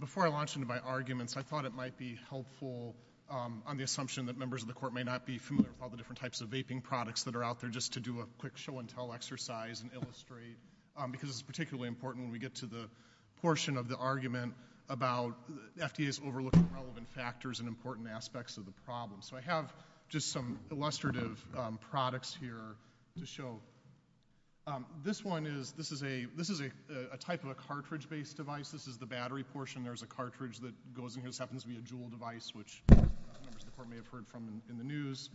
Before I launch into my arguments, I thought it might be helpful on the assumption that members of the Court may not be familiar with all the different types of vaping products that are out there, just to do a quick show-and-tell exercise and illustrate, because it's particularly important when we get to the portion of the argument about FDA's overlooking relevant factors and important aspects of the problem. So I have just some illustrative products here to show. This one is, this is a type of a cartridge-based device. This is the battery portion. There's a cartridge that goes in here. This happens to be a Juul device, which members of the Court may have heard from in the news.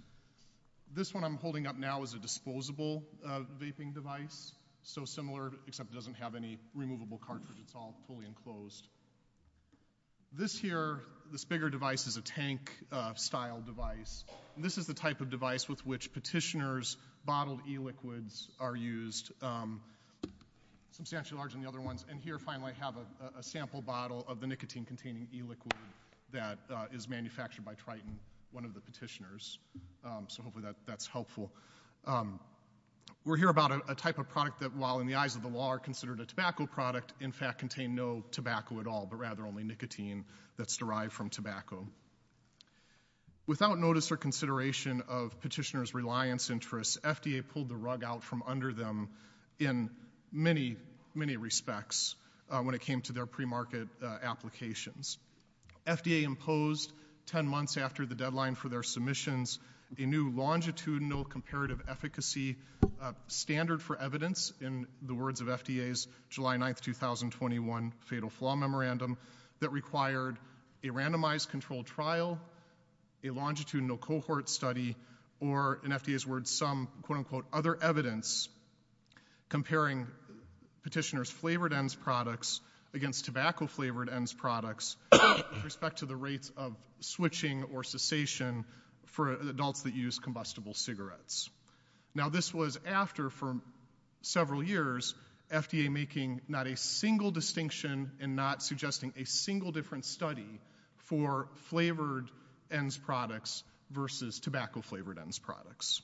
This one I'm holding up now is a disposable vaping device, so similar, except it doesn't have any removable cartridge. It's all fully enclosed. This here, this bigger device is a tank-style device. This is the type of device with which petitioners' bottled e-liquids are used, substantially larger than the other ones. And here, finally, I have a sample bottle of the nicotine-containing e-liquid that is manufactured by Triton, one of the petitioners. So hopefully that's helpful. We'll hear about a type of product that, while in the eyes of the law are considered a tobacco product, in fact contain no tobacco at all, but rather only nicotine that's derived from tobacco. Without notice or consideration of petitioners' reliance interests, FDA pulled the rug out from under them in many, many respects when it came to their pre-market applications. FDA imposed 10 months after the deadline for their submissions a new longitudinal comparative efficacy standard for evidence, in the words of FDA's July 9th, 2021 Fatal Flaw Memorandum, that required a randomized controlled trial, a longitudinal cohort study, or, in FDA's words, some, quote-unquote, other evidence, comparing petitioners' flavored ends products against tobacco-flavored ends products with respect to the rates of switching or cessation for adults that use combustible cigarettes. Now, this was after, for several years, FDA making not a single distinction and not suggesting a single different study for flavored ends products versus tobacco-flavored ends products.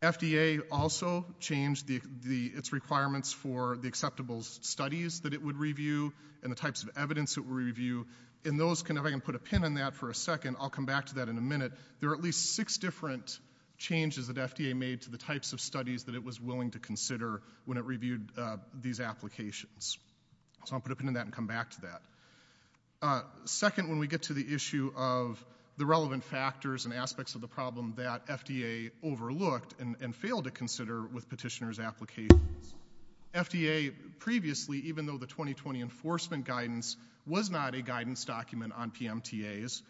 FDA also changed its requirements for the acceptable studies that it would review and the types of evidence it would review, and those, if I can put a pin in that for a second, I'll come back to that in a minute, there are at least six different changes that FDA made to the types of studies that it was willing to consider when it reviewed these applications. So I'll put a pin in that and come back to that. Second, when we get to the issue of the relevant factors and aspects of the problem that FDA overlooked and failed to consider with petitioners' applications, FDA previously, even though the 2020 enforcement guidance was not a guidance document on PMTAs,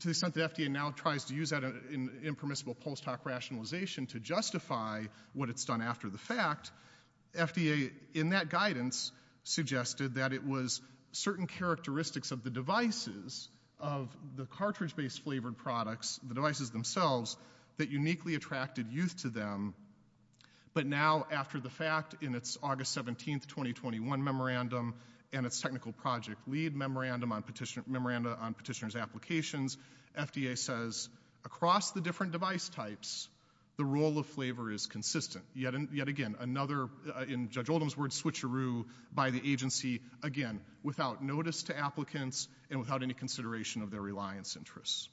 to the extent that FDA now tries to use that in impermissible post hoc rationalization to justify what it's done after the fact, FDA, in that guidance, suggested that it was certain characteristics of the devices, of the cartridge-based flavored products, the devices themselves, that uniquely attracted youth to them. But now, after the fact, in its August 17th, 2021 memorandum and its technical project lead memorandum on petitioner's applications, FDA says, across the different device types, the role of flavor is consistent. Yet again, another, in Judge Oldham's words, switcheroo by the agency, again, without notice to applicants and without any consideration of their reliance interests.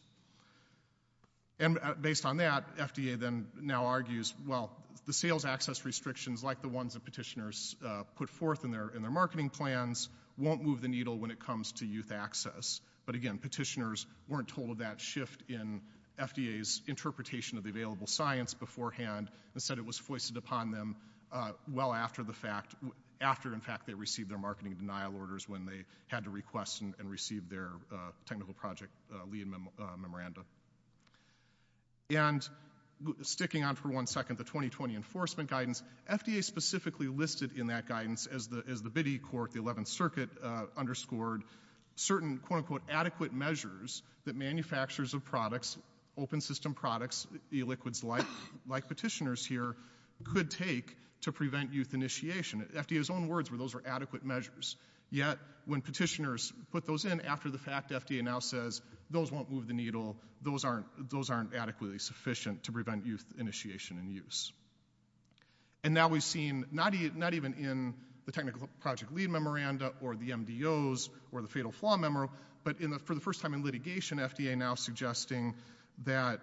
And based on that, FDA now argues, well, the sales access restrictions, like the ones that petitioners put forth in their marketing plans, won't move the needle when it comes to youth access. But again, petitioners weren't told of that shift in FDA's interpretation of the available science beforehand. Instead, it was foisted upon them well after the fact, after, in fact, they received their marketing denial orders when they had to request and receive their technical project lead memorandum. And sticking on for one second, the 2020 enforcement guidance, FDA specifically listed in that guidance, as the BIDI court, the 11th circuit, underscored certain, quote-unquote, adequate measures that manufacturers of products, open system products, e-liquids like petitioners here, could take to prevent youth initiation. FDA's own words were those were adequate measures. Yet, when petitioners put those in after the fact, FDA now says, those won't move the needle, those aren't adequately sufficient to prevent youth initiation and use. And now we've seen, not even in the technical project lead memorandum, or the MDOs, or the fatal flaw memo, but for the first time in litigation, FDA now suggesting that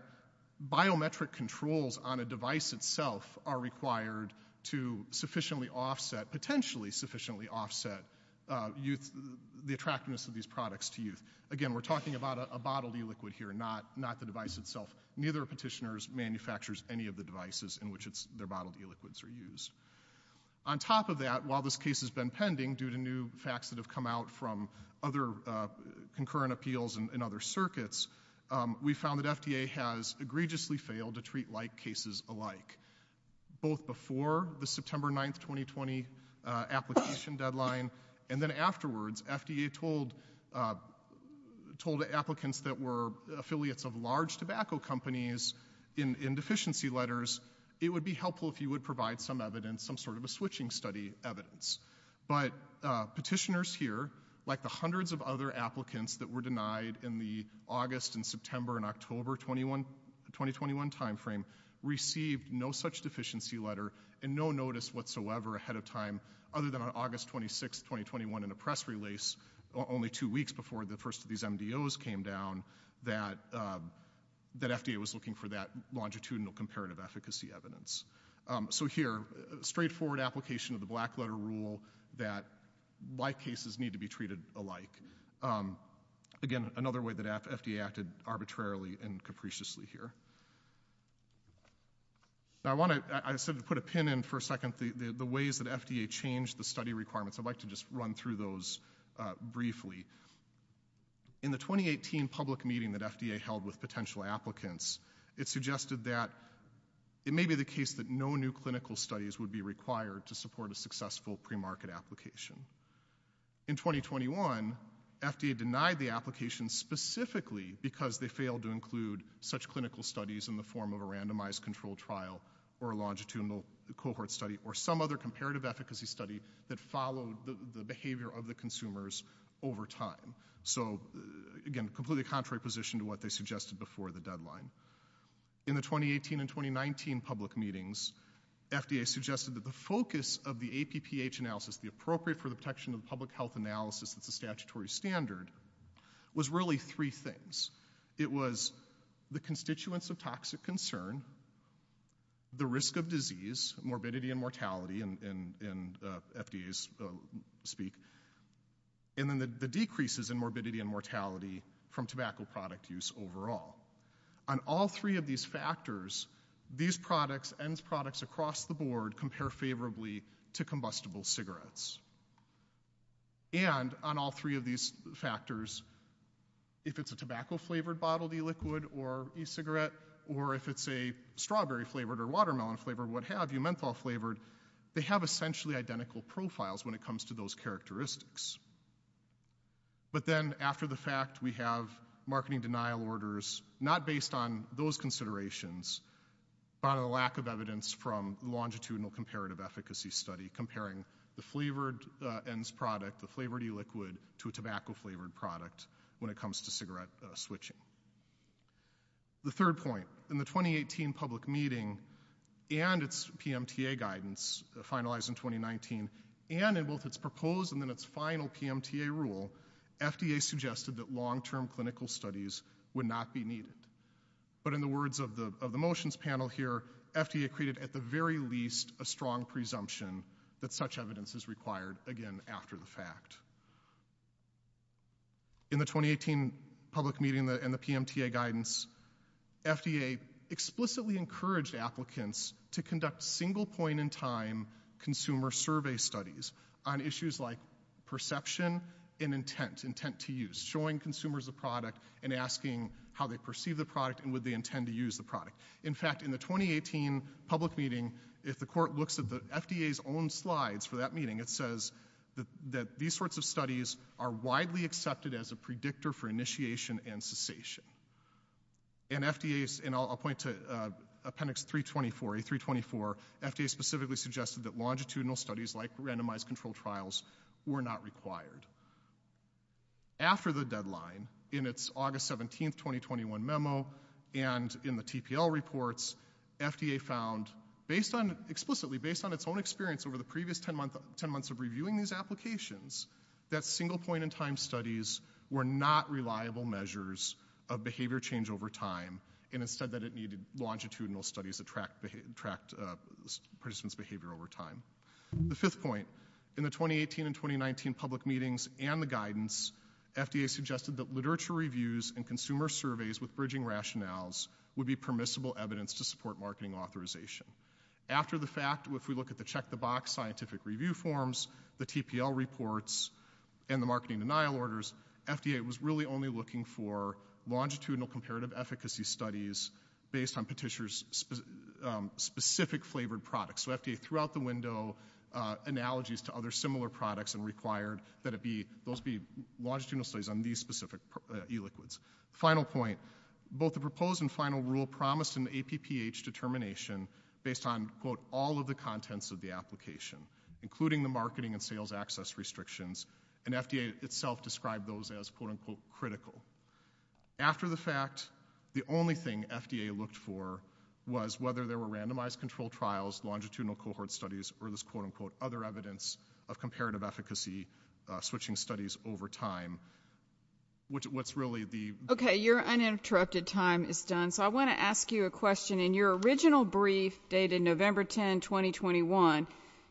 biometric controls on a device itself are required to sufficiently offset, potentially sufficiently offset, youth, the attractiveness of these products to youth. Again, we're talking about a bodily liquid here, not the device itself. Neither of petitioners manufactures any of the devices in which their bodily liquids are used. On top of that, while this case has been pending, due to new facts that have come out from other concurrent appeals and other circuits, we found that FDA has egregiously failed to treat like cases alike. Both before the September 9th, 2020 application deadline, and then afterwards, FDA told, told applicants that were affiliates of large tobacco companies in deficiency letters, it would be helpful if you would provide some evidence, some sort of a switching study evidence. But petitioners here, like the hundreds of other applicants that were denied in the August and September and October 2021 timeframe, received no such deficiency letter and no notice whatsoever ahead of time, other than on August 26th, 2021 in a press release, only two weeks before the first of these MDOs came down, that, that FDA was looking for that longitudinal comparative efficacy evidence. So here, straightforward application of the black letter rule that like cases need to be treated alike. Again, another way that FDA acted arbitrarily and capriciously here. Now I want to, I said to put a pin in for a second, the ways that FDA changed the study requirements. I'd like to just run through those briefly. In the 2018 public meeting that FDA held with potential applicants, it suggested that it may be the case that no new clinical studies would be required to support a successful pre-market application. In 2021, FDA denied the application specifically because they failed to include such clinical studies in the form of a randomized control trial or a longitudinal cohort study or some other comparative efficacy study that followed the behavior of the consumers over time. So again, completely contrary position to what they suggested before the deadline. In the 2018 and 2019 public meetings, FDA suggested that the focus of the APPH analysis, the appropriate for the protection of public health analysis that's a statutory standard, was really three things. It was the constituents of toxic concern, the risk of disease, morbidity and mortality in FDA's speak, and then the decreases in morbidity and mortality from tobacco product use overall. On all three of these factors, these products and products across the board compare favorably to combustible cigarettes. And on all three of these factors, if it's a tobacco flavored bottled e-liquid or e-cigarette or if it's a strawberry flavored or watermelon flavored, what have you, menthol flavored, they have essentially identical profiles when it comes to those characteristics. But then after the fact, we have marketing denial orders, not based on those considerations, but a lack of evidence from longitudinal comparative efficacy study comparing the flavored ends product, the flavored e-liquid to a tobacco flavored product when it comes to cigarette switching. The third point, in the 2018 public meeting and its PMTA guidance finalized in 2019 and in both its proposed and then its final PMTA rule, FDA suggested that long-term clinical studies would not be needed. But in the words of the motions panel here, FDA created at the very least a strong presumption that such evidence is required again after the fact. In the 2018 public meeting and the PMTA guidance, FDA explicitly encouraged applicants to conduct single point in time consumer survey studies on issues like perception and intent, intent to use, showing consumers a product and asking how they perceive the product and would they intend to use the product. In fact, in the 2018 public meeting, if the court looks at the FDA's own slides for that meeting, it says that these sorts of studies are widely accepted as a predictor for initiation and cessation. And FDA's, and I'll point to appendix 324, A324, FDA specifically suggested that longitudinal studies like randomized control trials were not required. After the deadline, in its August 17th, 2021 memo and in the TPL reports, FDA found based on, explicitly based on its own experience over the previous 10 months of reviewing these applications, that single point in time studies were not reliable measures of behavior change over time and instead that it needed longitudinal studies to track participants' behavior over time. The fifth point, in the 2018 and 2019 public meetings and the guidance, FDA suggested that literature reviews and consumer surveys with bridging rationales would be permissible evidence to support marketing authorization. After the fact, if we look at the check the box scientific review forms, the TPL reports, and the marketing denial orders, FDA was really only looking for longitudinal comparative efficacy studies based on Petitioner's specific flavored products. So FDA threw out the window analogies to other similar products and required that it be, those be longitudinal studies on these specific e-liquids. Final point, both the proposed and final rule promised an APPH determination based on quote all of the contents of the application, including the marketing and sales access restrictions, and FDA itself described those as quote unquote critical. After the fact, the only thing FDA looked for was whether there were randomized control trials, longitudinal cohort studies, or this quote unquote other evidence of comparative efficacy switching studies over time. What's really the- Okay, your uninterrupted time is done, so I want to ask you a question. In your original brief dated November 10, 2021,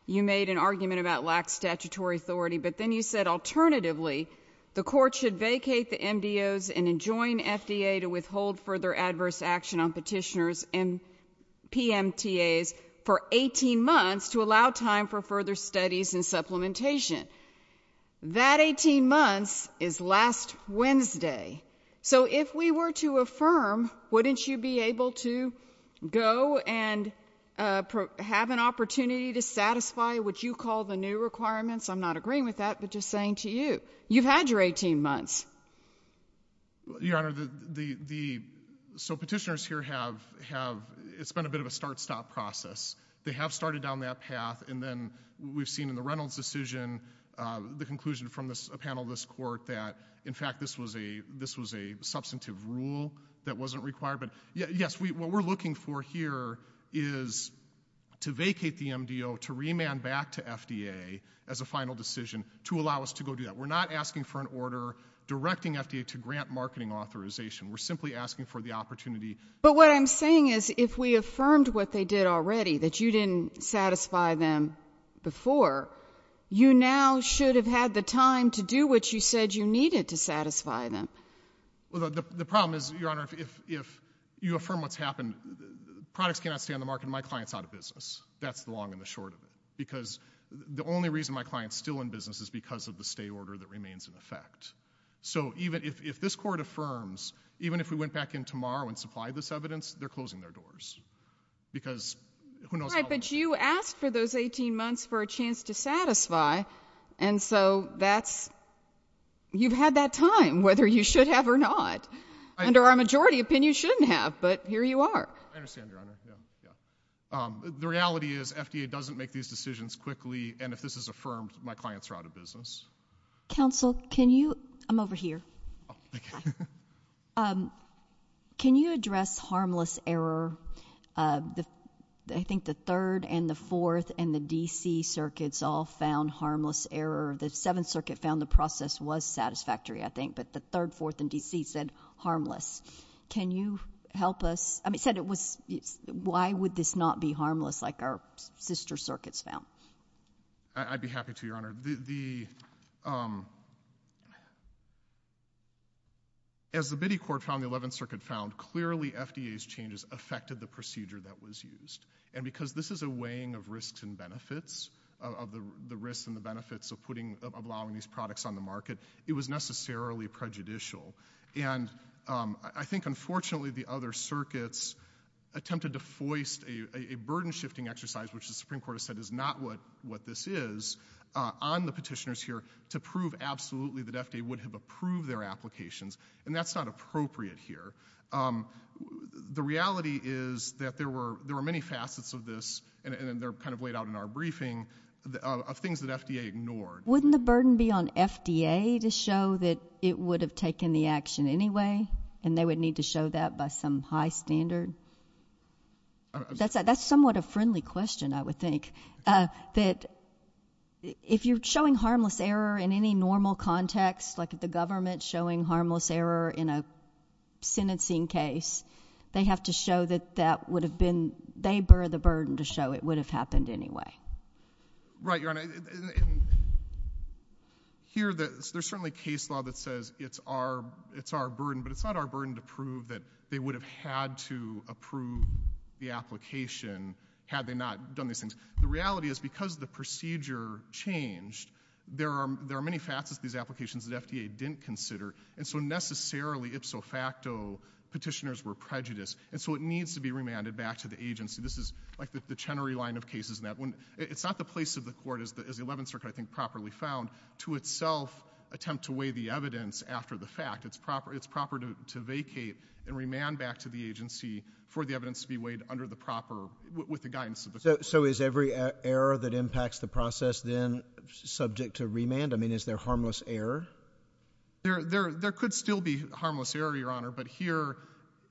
you made an argument about lax statutory authority, but then you said alternatively the court should vacate the MDOs and enjoin FDA to withhold further adverse action on Petitioner's PMTAs for 18 months to allow time for further studies and supplementation. That 18 months is last Wednesday, so if we were to affirm, wouldn't you be able to go and have an opportunity to satisfy what you call the new requirements? I'm not agreeing with that, but just saying to you, you've had your 18 months. Your Honor, the, the, the, so Petitioner's here have, have, it's been a bit of a start stop process. They have started down that path, and then we've seen in the Reynolds decision, the conclusion from this, a panel of this court that, in fact, this was a, this was a substantive rule that wasn't required, but yes, what we're looking for here is to vacate the MDO, to remand back to FDA as a final decision to allow us to go do that. We're not asking for an order directing FDA to grant marketing authorization. We're simply asking for the opportunity. But what I'm saying is if we affirmed what they did already, that you didn't satisfy them before, you now should have had the time to do what you said you needed to satisfy them. Well, the, the problem is, Your Honor, if, if you affirm what's happened, products cannot stay on the market, and my client's out of business. That's the long and the short of it, because the only reason my client's still in business is because of the stay order that remains in effect. So even if, if this court affirms, even if we went back in and asked for those 18 months for a chance to satisfy, and so that's, you've had that time, whether you should have or not. Under our majority opinion, you shouldn't have, but here you are. I understand, Your Honor. Yeah, yeah. The reality is FDA doesn't make these decisions quickly, and if this is affirmed, my client's are out of business. Counsel, can you, I'm over here. Oh, okay. Can you address harmless error? The, I think the Third and the Fourth and the D.C. circuits all found harmless error. The Seventh Circuit found the process was satisfactory, I think, but the Third, Fourth, and D.C. said harmless. Can you help us? I mean, it said it was, why would this not be harmless, like our sister circuits found? I, I'd be happy to, Your Honor. The, the, um, as the Biddy Court found, the Eleventh Circuit found, clearly FDA's changes affected the procedure that was used, and because this is a weighing of risks and benefits, of, of the, the risks and the benefits of putting, of allowing these products on the market, it was necessarily prejudicial, and, um, I, I think, unfortunately, the other circuits attempted to foist a, a burden-shifting exercise, which the Supreme Court has said is not what, what this is, uh, on the petitioners here to prove absolutely that FDA would have approved their applications, and that's not appropriate here. Um, the reality is that there were, there were many facets of this, and, and they're kind of laid out in our briefing, of things that FDA ignored. Wouldn't the burden be on FDA to show that it would have taken the standard? That's a, that's somewhat a friendly question, I would think, uh, that if you're showing harmless error in any normal context, like if the government's showing harmless error in a sentencing case, they have to show that that would have been, they bear the burden to show it would have happened anyway. Right, Your Honor. Here, the, there's certainly case law that says it's our, it's our burden, but it's not our burden to prove that they would have had to approve the application had they not done these things. The reality is, because the procedure changed, there are, there are many facets to these applications that FDA didn't consider, and so necessarily, ipso facto, petitioners were prejudiced, and so it needs to be remanded back to the agency. This is, like, the, the Chenery line of cases, and that wouldn't, it's not the place of the court, as the, as the Eleventh Circuit, I think, properly found, to itself attempt to weigh the evidence after the fact. It's proper, it's proper to, to vacate and remand back to the agency for the evidence to be weighed under the proper, with the guidance of the court. So, so is every error that impacts the process then subject to remand? I mean, is there harmless error? There, there, there could still be harmless error, Your Honor, but here,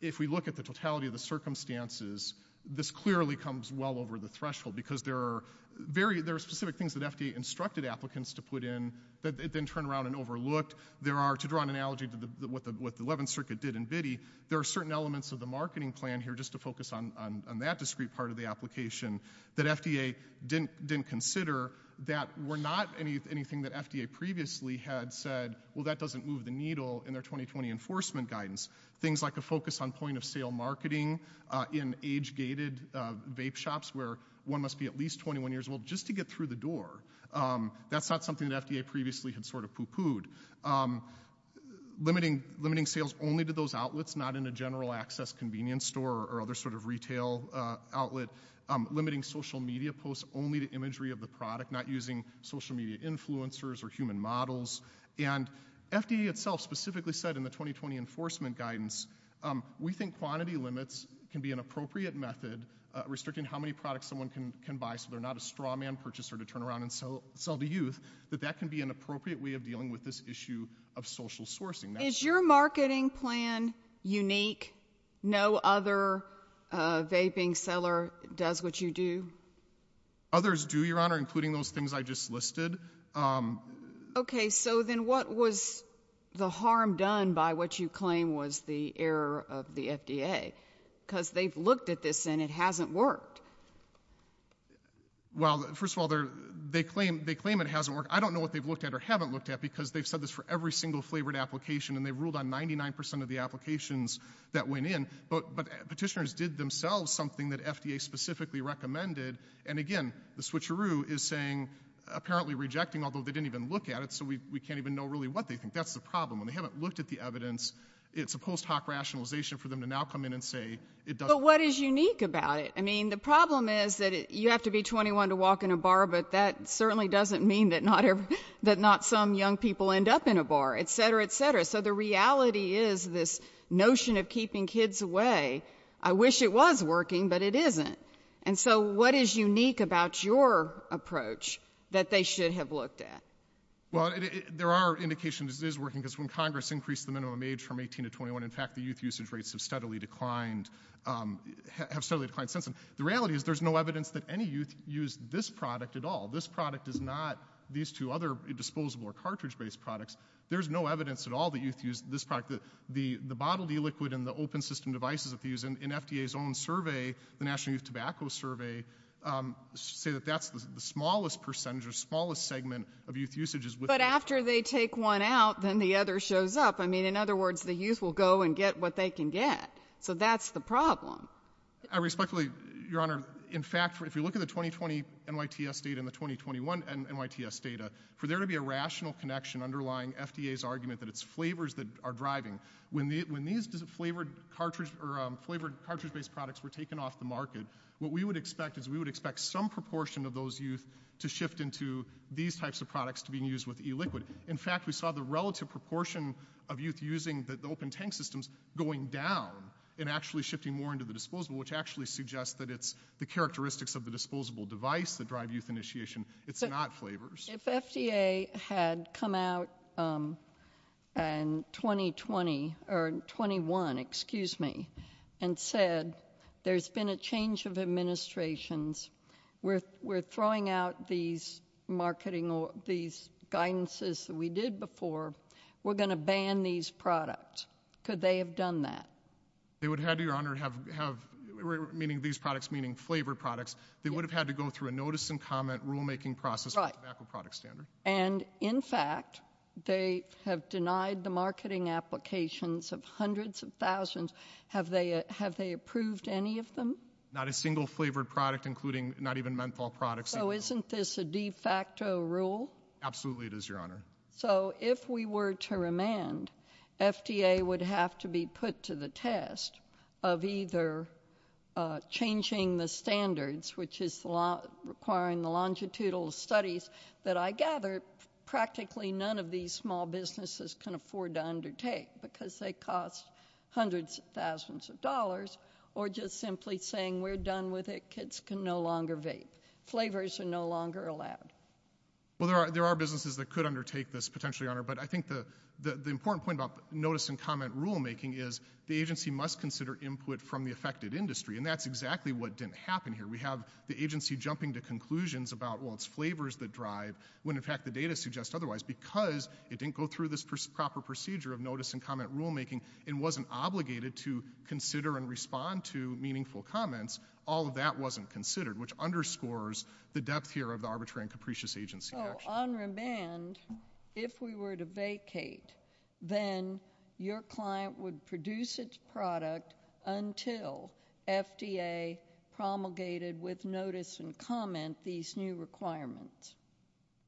if we look at the totality of the circumstances, this clearly comes well over the threshold, because there are very, there are specific things that FDA instructed applicants to put in that they then turned around and overlooked. There are, to draw an analogy to the, what the, what the Eleventh Circuit did in Biddy, there are certain elements of the marketing plan here, just to focus on, on, on that discrete part of the application, that FDA didn't, didn't consider, that were not any, anything that FDA previously had said, well, that doesn't move the needle in their 2020 enforcement guidance. Things like a focus on point-of-sale marketing in age-gated vape shops, where one must be at least 21 years old just to get through the door. That's not something that FDA previously had sort of poo-pooed. Limiting, limiting sales only to those outlets, not in a general access convenience store or other sort of retail outlet. Limiting social media posts only to imagery of the product, not using social media influencers or human models. And FDA itself specifically said in the 2020 enforcement guidance, we think quantity limits can be an appropriate method, restricting how many products someone can, can buy, so they're not a straw man purchaser to turn around and sell, sell to youth, that that can be an appropriate way of dealing with this issue of social sourcing. Is your marketing plan unique? No other vaping seller does what you do? Others do, Your Honor, including those things I just listed. Okay, so then what was the harm done by what you claim was the error of the FDA? Because they've looked at this and it hasn't worked. Well, first of all, they're, they claim, they claim it hasn't worked. I don't know what they've looked at or haven't looked at, because they've said this for every single flavored application, and they ruled on 99% of the applications that went in. But, but petitioners did themselves something that FDA specifically recommended, and again, the switcheroo is saying, apparently rejecting, although they didn't even look at it, so we, we can't even know really what they think. That's the problem. When they haven't looked at the evidence, it's a rationalization for them to now come in and say it doesn't work. But what is unique about it? I mean, the problem is that you have to be 21 to walk in a bar, but that certainly doesn't mean that not, that not some young people end up in a bar, etc., etc. So the reality is this notion of keeping kids away. I wish it was working, but it isn't. And so what is unique about your approach that they should have looked at? Well, there are indications it is working, because when Congress increased the minimum age from 18 to 21, in fact, the youth usage rates have steadily declined, have steadily declined since then. The reality is there's no evidence that any youth used this product at all. This product is not these two other disposable or cartridge-based products. There's no evidence at all that youth use this product. The, the, the bottled e-liquid and the open system devices that they use in, in FDA's own survey, the National Youth Tobacco Survey, say that that's the smallest percentage or smallest segment of youth usage is within. But after they take one out, then the other shows up. I mean, in other words, the youth will go and get what they can get. So that's the problem. I respectfully, Your Honor, in fact, if you look at the 2020 NYTS data and the 2021 NYTS data, for there to be a rational connection underlying FDA's argument that it's flavors that are driving, when the, when these flavored cartridge or flavored cartridge-based products were taken off the market, what we would expect is we would expect some proportion of those youth to shift into these types of products to being used with e-liquid. In fact, we saw the relative proportion of youth using the open tank systems going down and actually shifting more into the disposable, which actually suggests that it's the characteristics of the disposable device that drive youth initiation. It's not flavors. If FDA had come out in 2020 or 21, excuse me, and said, there's been a change of administrations. We're, we're throwing out these marketing or these guidances that we did before. We're going to ban these products. Could they have done that? They would have, Your Honor, have, have, meaning these products, meaning flavor products, they would have had to go through a notice and comment rulemaking process to make a product standard. And in fact, they have denied the marketing applications of hundreds of thousands. Have they, have they approved any of them? Not a single flavored product, including not even menthol products. So isn't this a de facto rule? Absolutely it is, Your Honor. So if we were to remand, FDA would have to be put to the test of either changing the standards, which is requiring the longitudinal studies that I gather practically none of these small businesses can afford to undertake because they cost hundreds of thousands of dollars, or just simply saying we're done with it. Kids can no longer vape. Flavors are no longer allowed. Well, there are, there are businesses that could undertake this potentially, Your Honor. But I think the, the, the important point about notice and comment rulemaking is the agency must consider input from the affected industry. And that's exactly what didn't happen here. We have the agency jumping to conclusions about, well, it's flavors that drive, when in fact the data suggests otherwise. Because it didn't go through this proper procedure of notice and comment rulemaking, it wasn't obligated to consider and respond to meaningful comments. All of that wasn't considered, which underscores the depth here of the arbitrary and capricious agency action. On remand, if we were to vacate, then your client would produce its product until FDA promulgated with notice and comment these new requirements.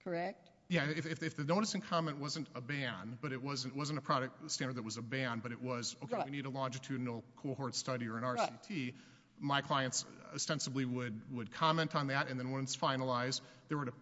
Correct? Yeah. If, if the notice and comment wasn't a ban, but it wasn't, it wasn't a product standard that was a ban, but it was, okay, we need a longitudinal cohort study or an RCT, my clients ostensibly would, would comment on that. And then when it's finalized, they were to,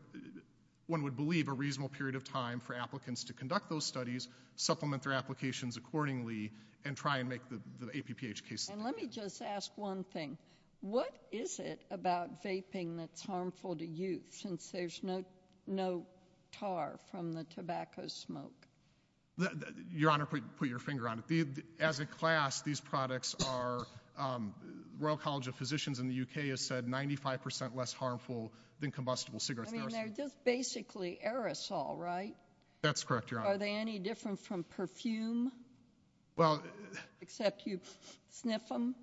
one would believe a reasonable period of time for applicants to conduct those studies, supplement their applications accordingly, and try and make the, the APPH case. And let me just ask one thing. What is it about vaping that's harmful to you, since there's no, no tar from the tobacco smoke? Your Honor, put your finger on it. As a class, these products are, um, Royal College of Physicians in the UK has said 95% less harmful than combustible cigarettes. I mean, they're just basically aerosol, right? That's correct, Your Honor. Are they any different from perfume? Well, except you sniff them.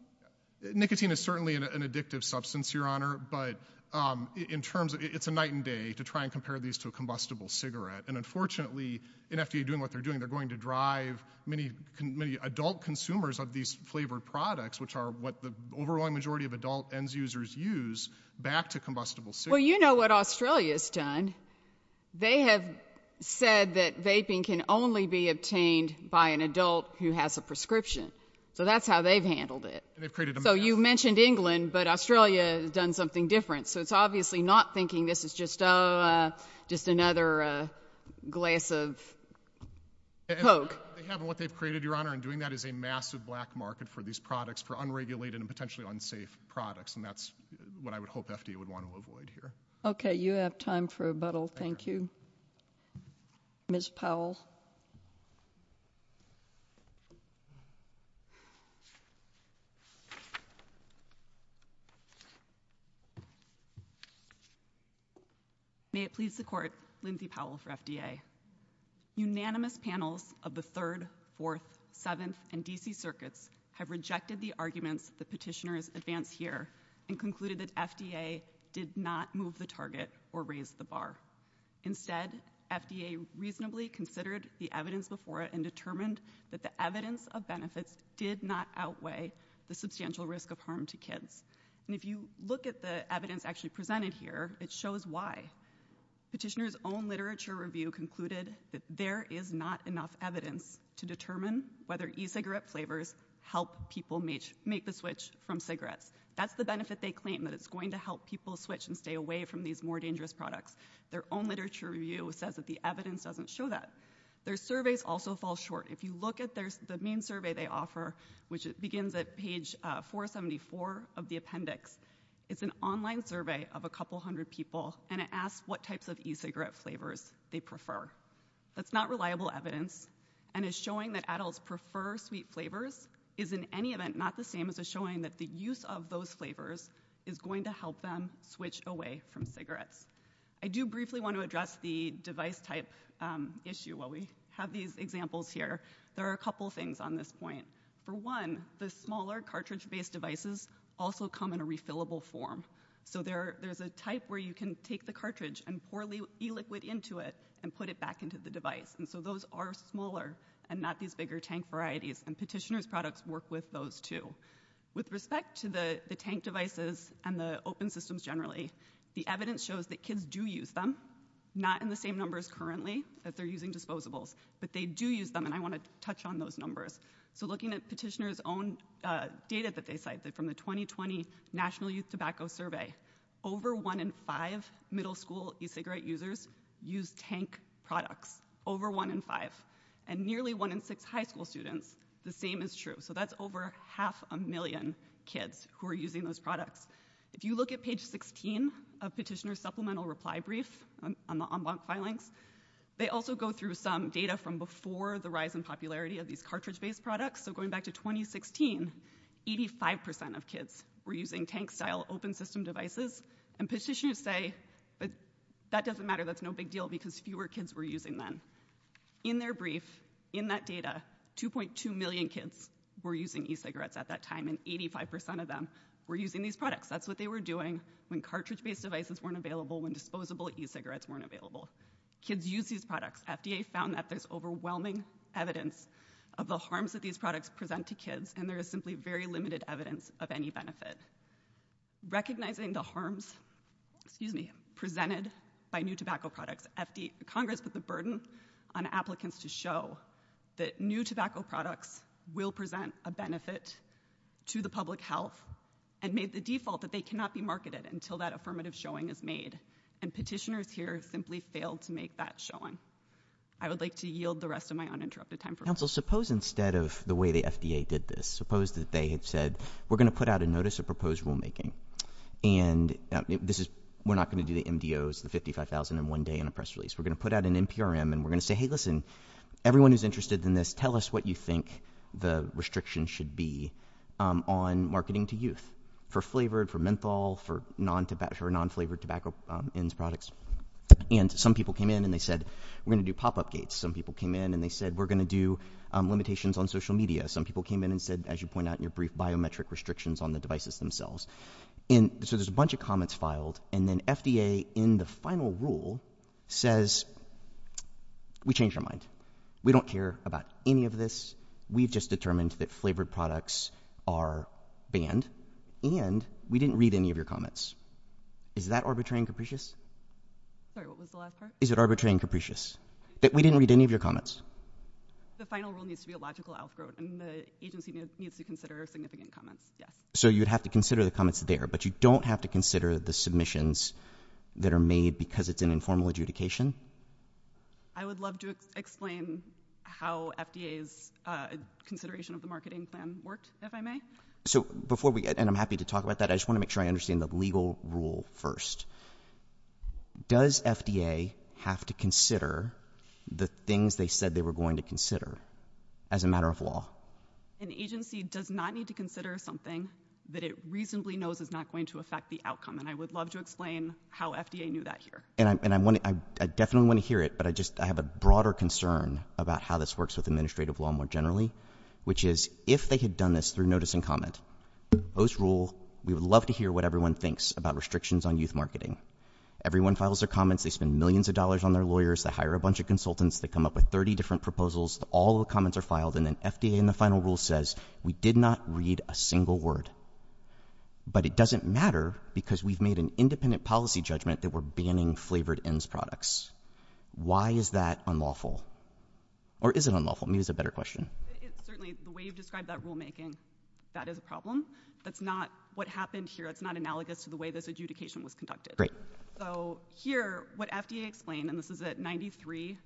Nicotine is certainly an, an addictive substance, Your Honor, but, um, in terms of, it's a night and day to try and compare these to a combustible cigarette. And unfortunately, in FDA doing what they're doing, they're going to drive many, many adult consumers of these flavored products, which are what the overall majority of adult ENDS users use, back to combustible cigarettes. Well, you know what Australia has done. They have said that vaping can only be obtained by an adult who has a prescription. So that's how they've handled it. And they've created a map. So you mentioned England, but Australia has done something different. So it's obviously not thinking this is just, uh, just another, uh, glass of coke. What they've created, Your Honor, and doing that is a massive black market for these products, for unregulated and potentially unsafe products. And that's what I would hope FDA would want to avoid here. Okay. You have time for rebuttal. Thank you. Ms. Powell. May it please the Court, Lindsay Powell for FDA. Unanimous panels of the third, fourth, seventh, and D.C. circuits have rejected the arguments the petitioners advance here and concluded that FDA did not move the target or raise the bar. Instead, FDA reasonably considered the evidence before it and determined that the evidence of benefits did not outweigh the substantial risk of harm to kids. And if you look at the evidence actually presented here, it shows why. Petitioner's own literature review concluded that there is not enough evidence to determine whether e-cigarette flavors help people make the switch from cigarettes. That's the benefit they claim, that it's going to help people switch and stay away from these more dangerous products. Their own literature review says that the evidence doesn't show that. Their surveys also fall short. If you look at the main survey they offer, which begins at page, uh, 474 of the appendix, it's an online survey of a couple hundred people, and it asks what types of e-cigarette flavors they prefer. That's not reliable evidence, and it's showing that adults prefer sweet flavors is in any event not the same as a showing that the use of those flavors is going to help them switch away from cigarettes. I do briefly want to address the device type, um, issue while we have these examples here. There are a couple things on this point. For one, the smaller cartridge-based devices also come in a refillable form. So there, there's a type where you can take the cartridge and pour e-liquid into it and put it back into the device, and so those are smaller and not these bigger tank varieties, and Petitioner's products work with those, too. With respect to the, the tank devices and the open systems generally, the evidence shows that kids do use them, not in the same numbers currently that they're using disposables, but they do use them, and I want to touch on those numbers. So looking at Petitioner's own, uh, data that they from the 2020 National Youth Tobacco Survey, over 1 in 5 middle school e-cigarette users use tank products, over 1 in 5, and nearly 1 in 6 high school students, the same is true. So that's over half a million kids who are using those products. If you look at page 16 of Petitioner's supplemental reply brief on the en banc filings, they also go through some data from before the using tank-style open system devices, and Petitioner's say, but that doesn't matter, that's no big deal because fewer kids were using them. In their brief, in that data, 2.2 million kids were using e-cigarettes at that time, and 85% of them were using these products. That's what they were doing when cartridge-based devices weren't available, when disposable e-cigarettes weren't available. Kids use these products. FDA found that there's overwhelming evidence of the any benefit. Recognizing the harms, excuse me, presented by new tobacco products, FDA, Congress put the burden on applicants to show that new tobacco products will present a benefit to the public health, and made the default that they cannot be marketed until that affirmative showing is made, and Petitioner's here simply failed to make that showing. I would like to yield the rest of my uninterrupted time for questions. Suppose instead of the way the FDA did this, suppose that they had said, we're going to put out a notice of proposed rulemaking, and this is, we're not going to do the MDOs, the 55,000 in one day in a press release. We're going to put out an NPRM, and we're going to say, hey, listen, everyone who's interested in this, tell us what you think the restriction should be on marketing to youth, for flavored, for menthol, for non-flavored tobacco products, and some people came in, and they said, we're going to do pop-up gates. Some people came in, and they said, we're going to do limitations on social media. Some people came in and said, as you point out in your brief, biometric restrictions on the devices themselves, and so there's a bunch of comments filed, and then FDA, in the final rule, says, we changed our mind. We don't care about any of this. We've just determined that flavored products are banned, and we didn't read any of your comments. Is that arbitrary and capricious? Sorry, what was the last part? Is it arbitrary and capricious, that we didn't read any of your comments? The final rule needs to be a logical outgrowth, and the agency needs to consider significant comments, yeah. So you'd have to consider the comments there, but you don't have to consider the submissions that are made because it's an informal adjudication? I would love to explain how FDA's consideration of the marketing plan worked, if I may. So before we get, and I'm happy to talk about that, I just want to make the legal rule first. Does FDA have to consider the things they said they were going to consider as a matter of law? An agency does not need to consider something that it reasonably knows is not going to affect the outcome, and I would love to explain how FDA knew that here. And I definitely want to hear it, but I just have a broader concern about how this works with administrative law more generally, which is, if they had done this through notice and comment, post-rule, we would love to hear what everyone thinks about restrictions on youth marketing. Everyone files their comments, they spend millions of dollars on their lawyers, they hire a bunch of consultants, they come up with 30 different proposals, all the comments are filed, and then FDA in the final rule says, we did not read a single word. But it doesn't matter because we've made an independent policy judgment that we're banning flavored ends products. Why is that unlawful? Or is it unlawful? Maybe it's a better question. It's certainly, the way you've described that rulemaking, that is a problem. That's not what happened here. It's not analogous to the way this adjudication was conducted. So here, what FDA explained, and this is at 93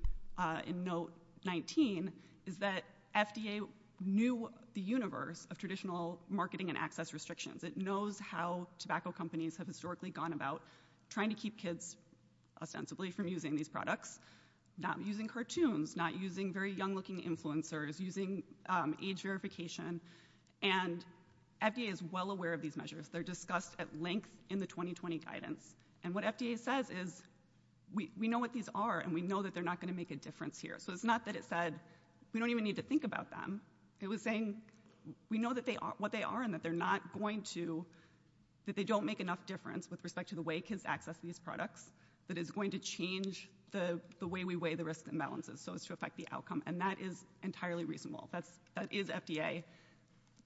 in note 19, is that FDA knew the universe of traditional marketing and access restrictions. It knows how tobacco companies have historically gone about trying to keep kids, ostensibly, from using these products, not using cartoons, not using very young-looking influencers, using age verification. And FDA is well aware of these measures. They're discussed at length in the 2020 guidance. And what FDA says is, we know what these are, and we know that they're not going to make a difference here. So it's not that it said, we don't even need to think about them. It was saying, we know what they are and that they're not going to, that they don't make enough difference with respect to the way kids access these products that is going to change the way we weigh the risks and balances, so as to affect the outcome. And that is entirely reasonable. That is FDA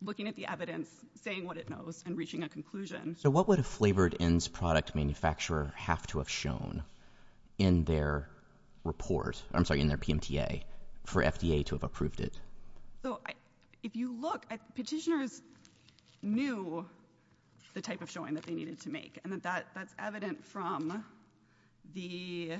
looking at the evidence, saying what it knows, and reaching a conclusion. So what would a flavored ends product manufacturer have to have shown in their report, I'm sorry, in their PMTA, for FDA to have approved it? So if you look at, petitioners knew the type of showing that they needed to make, and that that's evident from the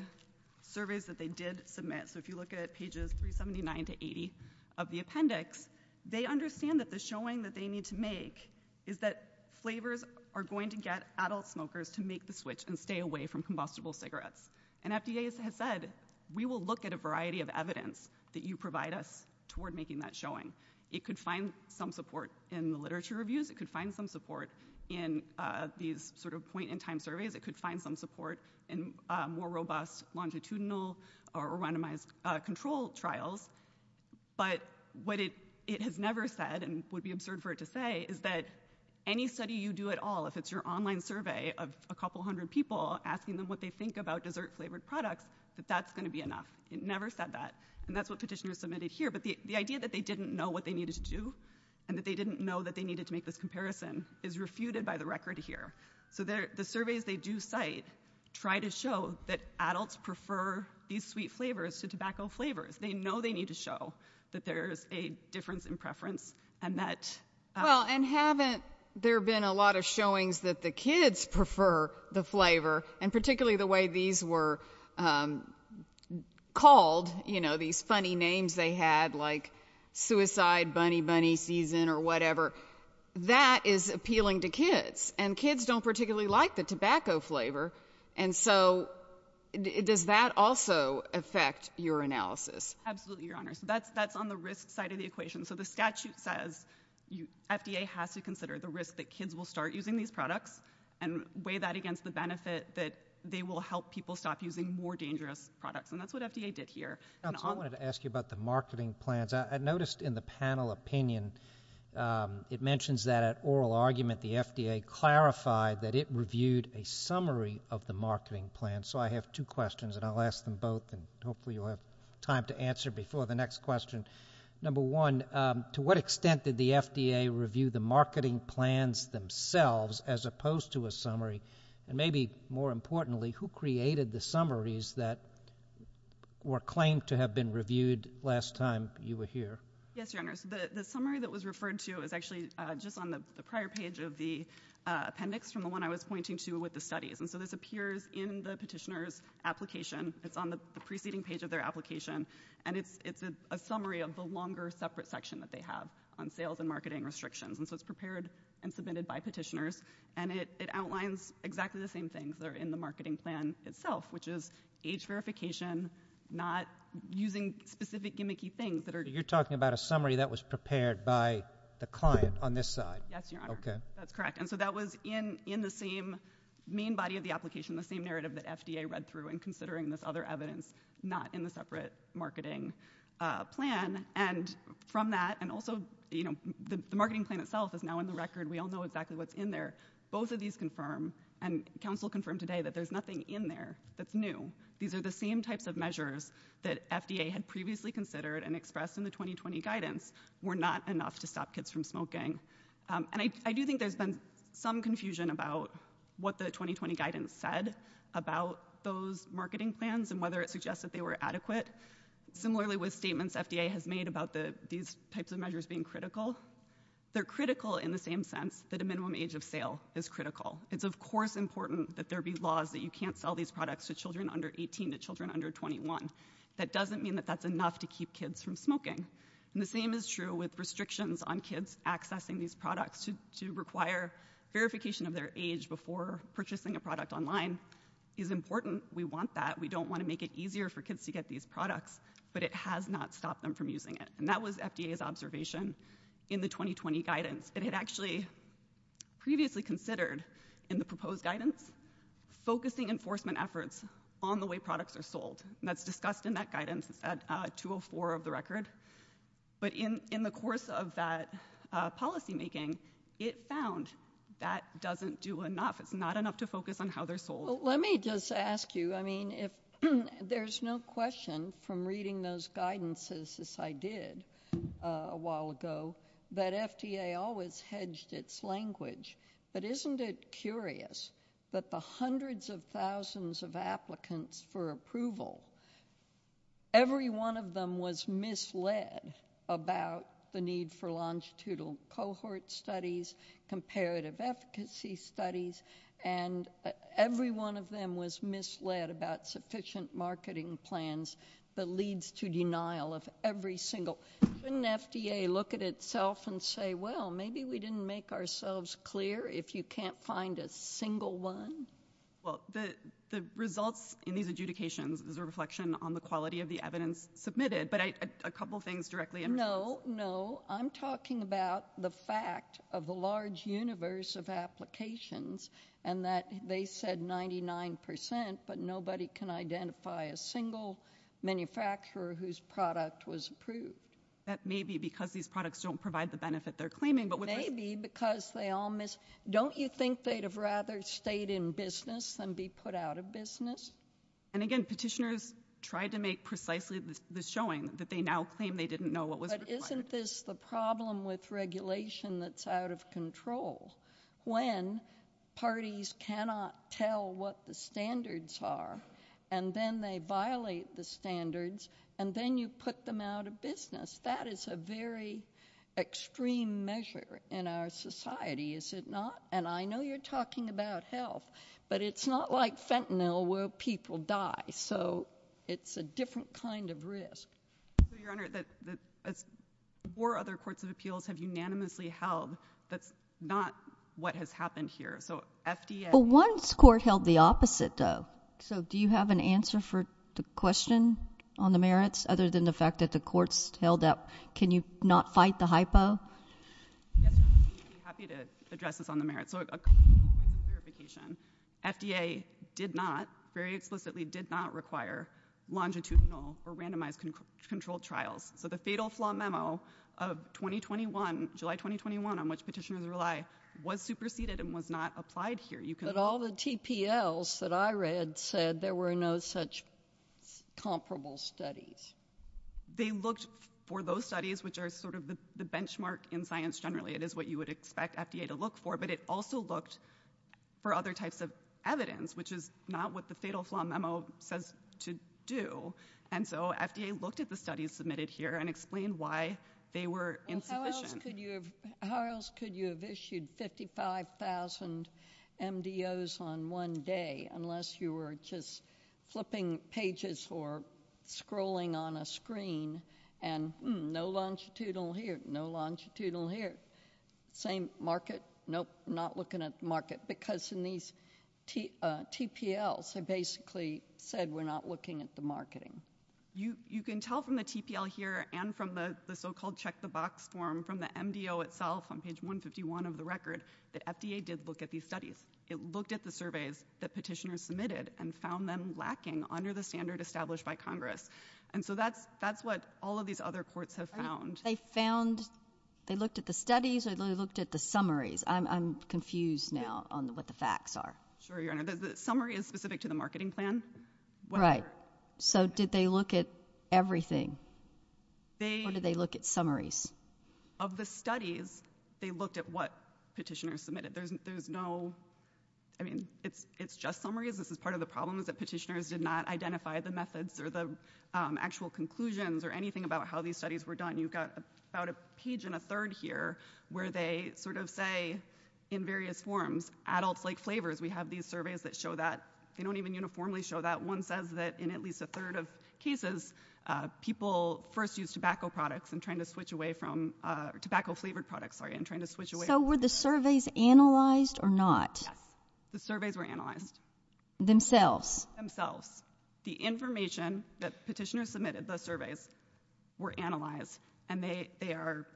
surveys that they did submit. So if you look at pages 379 to 80 of the appendix, they understand that the showing that they need to make is that flavors are going to get adult smokers to make the switch and stay away from combustible cigarettes. And FDA has said, we will look at a variety of literature reviews. It could find some support in these sort of point in time surveys. It could find some support in more robust longitudinal or randomized control trials. But what it has never said, and would be absurd for it to say, is that any study you do at all, if it's your online survey of a couple hundred people asking them what they think about dessert flavored products, that that's going to be enough. It never said that. And that's what petitioners submitted here. But the idea that they didn't know what they needed to do, and that they didn't know that they needed to make this comparison, is refuted by the record here. So the surveys they do cite, try to show that adults prefer these sweet flavors to tobacco flavors. They know they need to show that there's a difference in preference, and that... Well, and haven't there been a lot of showings that the kids prefer the suicide bunny bunny season or whatever? That is appealing to kids. And kids don't particularly like the tobacco flavor. And so, does that also affect your analysis? Absolutely, Your Honor. That's on the risk side of the equation. So the statute says FDA has to consider the risk that kids will start using these products, and weigh that against the benefit that they will help people stop using more dangerous products. And that's what FDA did here. I wanted to ask you about the marketing plans. I noticed in the panel opinion, it mentions that at oral argument, the FDA clarified that it reviewed a summary of the marketing plan. So I have two questions, and I'll ask them both, and hopefully you'll have time to answer before the next question. Number one, to what extent did the FDA review the marketing plans themselves, as opposed to a summary? And more importantly, who created the summaries that were claimed to have been reviewed last time you were here? Yes, Your Honor. The summary that was referred to is actually just on the prior page of the appendix from the one I was pointing to with the studies. And so this appears in the petitioner's application. It's on the preceding page of their application, and it's a summary of the longer separate section that they have on sales and marketing restrictions. And so it's prepared and submitted by petitioners, and it outlines exactly the same things that are in the marketing plan itself, which is age verification, not using specific gimmicky things that are You're talking about a summary that was prepared by the client on this side? Yes, Your Honor. Okay. That's correct. And so that was in the same main body of the application, the same narrative that FDA read through in considering this other evidence, not in the separate marketing plan. And from that, and also, you know, the marketing plan itself is now in the record. We all know exactly what's in there. Both of these confirm, and counsel confirmed today, that there's nothing in there that's new. These are the same types of measures that FDA had previously considered and expressed in the 2020 guidance were not enough to stop kids from smoking. And I do think there's been some confusion about what the 2020 guidance said about those statements. FDA has made about these types of measures being critical. They're critical in the same sense that a minimum age of sale is critical. It's of course important that there be laws that you can't sell these products to children under 18 to children under 21. That doesn't mean that that's enough to keep kids from smoking. And the same is true with restrictions on kids accessing these products to require verification of their age before purchasing a product online is important. We want that. We don't want to make it easier for kids to get these products, but it has not stopped them from using it. And that was FDA's observation in the 2020 guidance. It had actually previously considered in the proposed guidance, focusing enforcement efforts on the way products are sold. And that's discussed in that guidance. It's at 204 of the record. But in the course of that policymaking, it found that doesn't do enough. It's not enough to focus on how they're sold. Let me just ask you, I mean, if there's no question from reading those guidances as I did a while ago, that FDA always hedged its language. But isn't it curious that the hundreds of thousands of applicants for approval, every one of them was misled about the need for longitudinal cohort studies, comparative efficacy studies, and every one of them was misled about sufficient marketing plans that leads to denial of every single. Couldn't FDA look at itself and say, well, maybe we didn't make ourselves clear if you can't find a single one? Well, the results in these adjudications is a reflection on the quality of the evidence submitted. But a couple of things directly. No, no. I'm talking about the fact of the large universe of applications and that they said 99 percent, but nobody can identify a single manufacturer whose product was approved. That may be because these products don't provide the benefit they're claiming. But maybe because they all miss. Don't you think they'd have rather stayed in business than be put out of business? And again, petitioners tried to make precisely the showing that they now claim they didn't know what was required. Isn't this the problem with regulation that's out of control? When parties cannot tell what the standards are, and then they violate the standards, and then you put them out of business. That is a very extreme measure in our society, is it not? And I know you're talking about health, but it's not like fentanyl where people die. So it's a different kind of risk. Your Honor, the four other courts of appeals have unanimously held that's not what has happened here. So FDA... But one court held the opposite, though. So do you have an answer for the question on the merits, other than the fact that the courts held up, can you not fight the FDA? FDA did not, very explicitly, did not require longitudinal or randomized controlled trials. So the fatal flaw memo of 2021, July 2021, on which petitioners rely, was superseded and was not applied here. But all the TPLs that I read said there were no such comparable studies. They looked for those studies, which are sort of the benchmark in science, generally. It is what you would expect FDA to look for, but it also looked for other types of evidence, which is not what the fatal flaw memo says to do. And so FDA looked at the studies submitted here and explained why they were insufficient. How else could you have issued 55,000 MDOs on one day, unless you were just flipping pages or scrolling on a screen, and no longitudinal here, no same market, nope, not looking at the market. Because in these TPLs, they basically said we're not looking at the marketing. You can tell from the TPL here and from the so-called check the box form, from the MDO itself, on page 151 of the record, that FDA did look at these studies. It looked at the surveys that petitioners submitted and found them lacking under the standard established by Congress. And so that's what all of these other courts have found. They found, they looked at the studies or they looked at the summaries. I'm confused now on what the facts are. Sure, Your Honor. The summary is specific to the marketing plan. Right. So did they look at everything? Or did they look at summaries? Of the studies, they looked at what petitioners submitted. There's no, I mean, it's just summaries. This is part of the problem is that petitioners did not identify the methods or the actual conclusions or anything about how these studies were done. You've got about a page and a third here where they sort of say in various forms, adults like flavors. We have these surveys that show that. They don't even uniformly show that. One says that in at least a third of cases, people first use tobacco products and trying to switch away from, tobacco flavored products, sorry, and trying to switch away. So were the surveys analyzed or not? The surveys were analyzed. Themselves? Themselves. The information that petitioners submitted, the surveys were analyzed and they are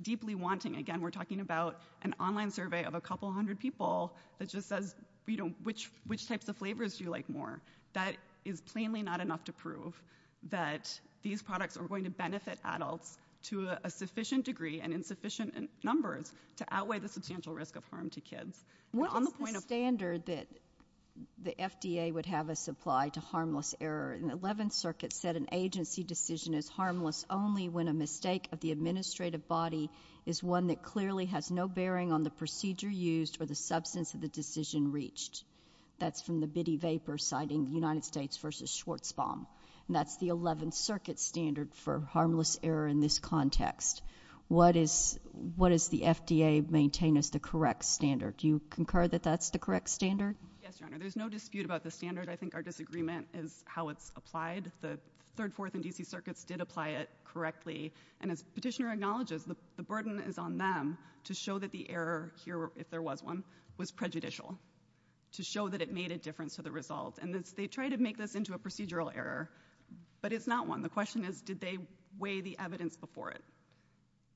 deeply wanting, again, we're talking about an online survey of a couple hundred people that just says, you know, which types of flavors do you like more? That is plainly not enough to prove that these products are going to benefit adults to a sufficient degree and in sufficient numbers to outweigh the substantial risk of harm to kids. What is the standard that the FDA would have us apply to harmless error? The 11th Circuit said an agency decision is harmless only when a mistake of the administrative body is one that clearly has no bearing on the procedure used or the substance of the decision reached. That's from the Bitty Vapor citing United States versus Schwartzbaum. That's the 11th Circuit standard for harmless error in this context. What is, what is the FDA maintain as the correct standard? Do you concur that that's the correct standard? Yes, Your Honor. There's no dispute about the standard. I think our disagreement is how it's applied. The 3rd, 4th, and D.C. circuits did apply it correctly and as petitioner acknowledges, the burden is on them to show that the error here, if there was one, was prejudicial. To show that it made a difference to the results and they try to make this into a procedural error, but it's not one. The question is did they weigh the evidence before it?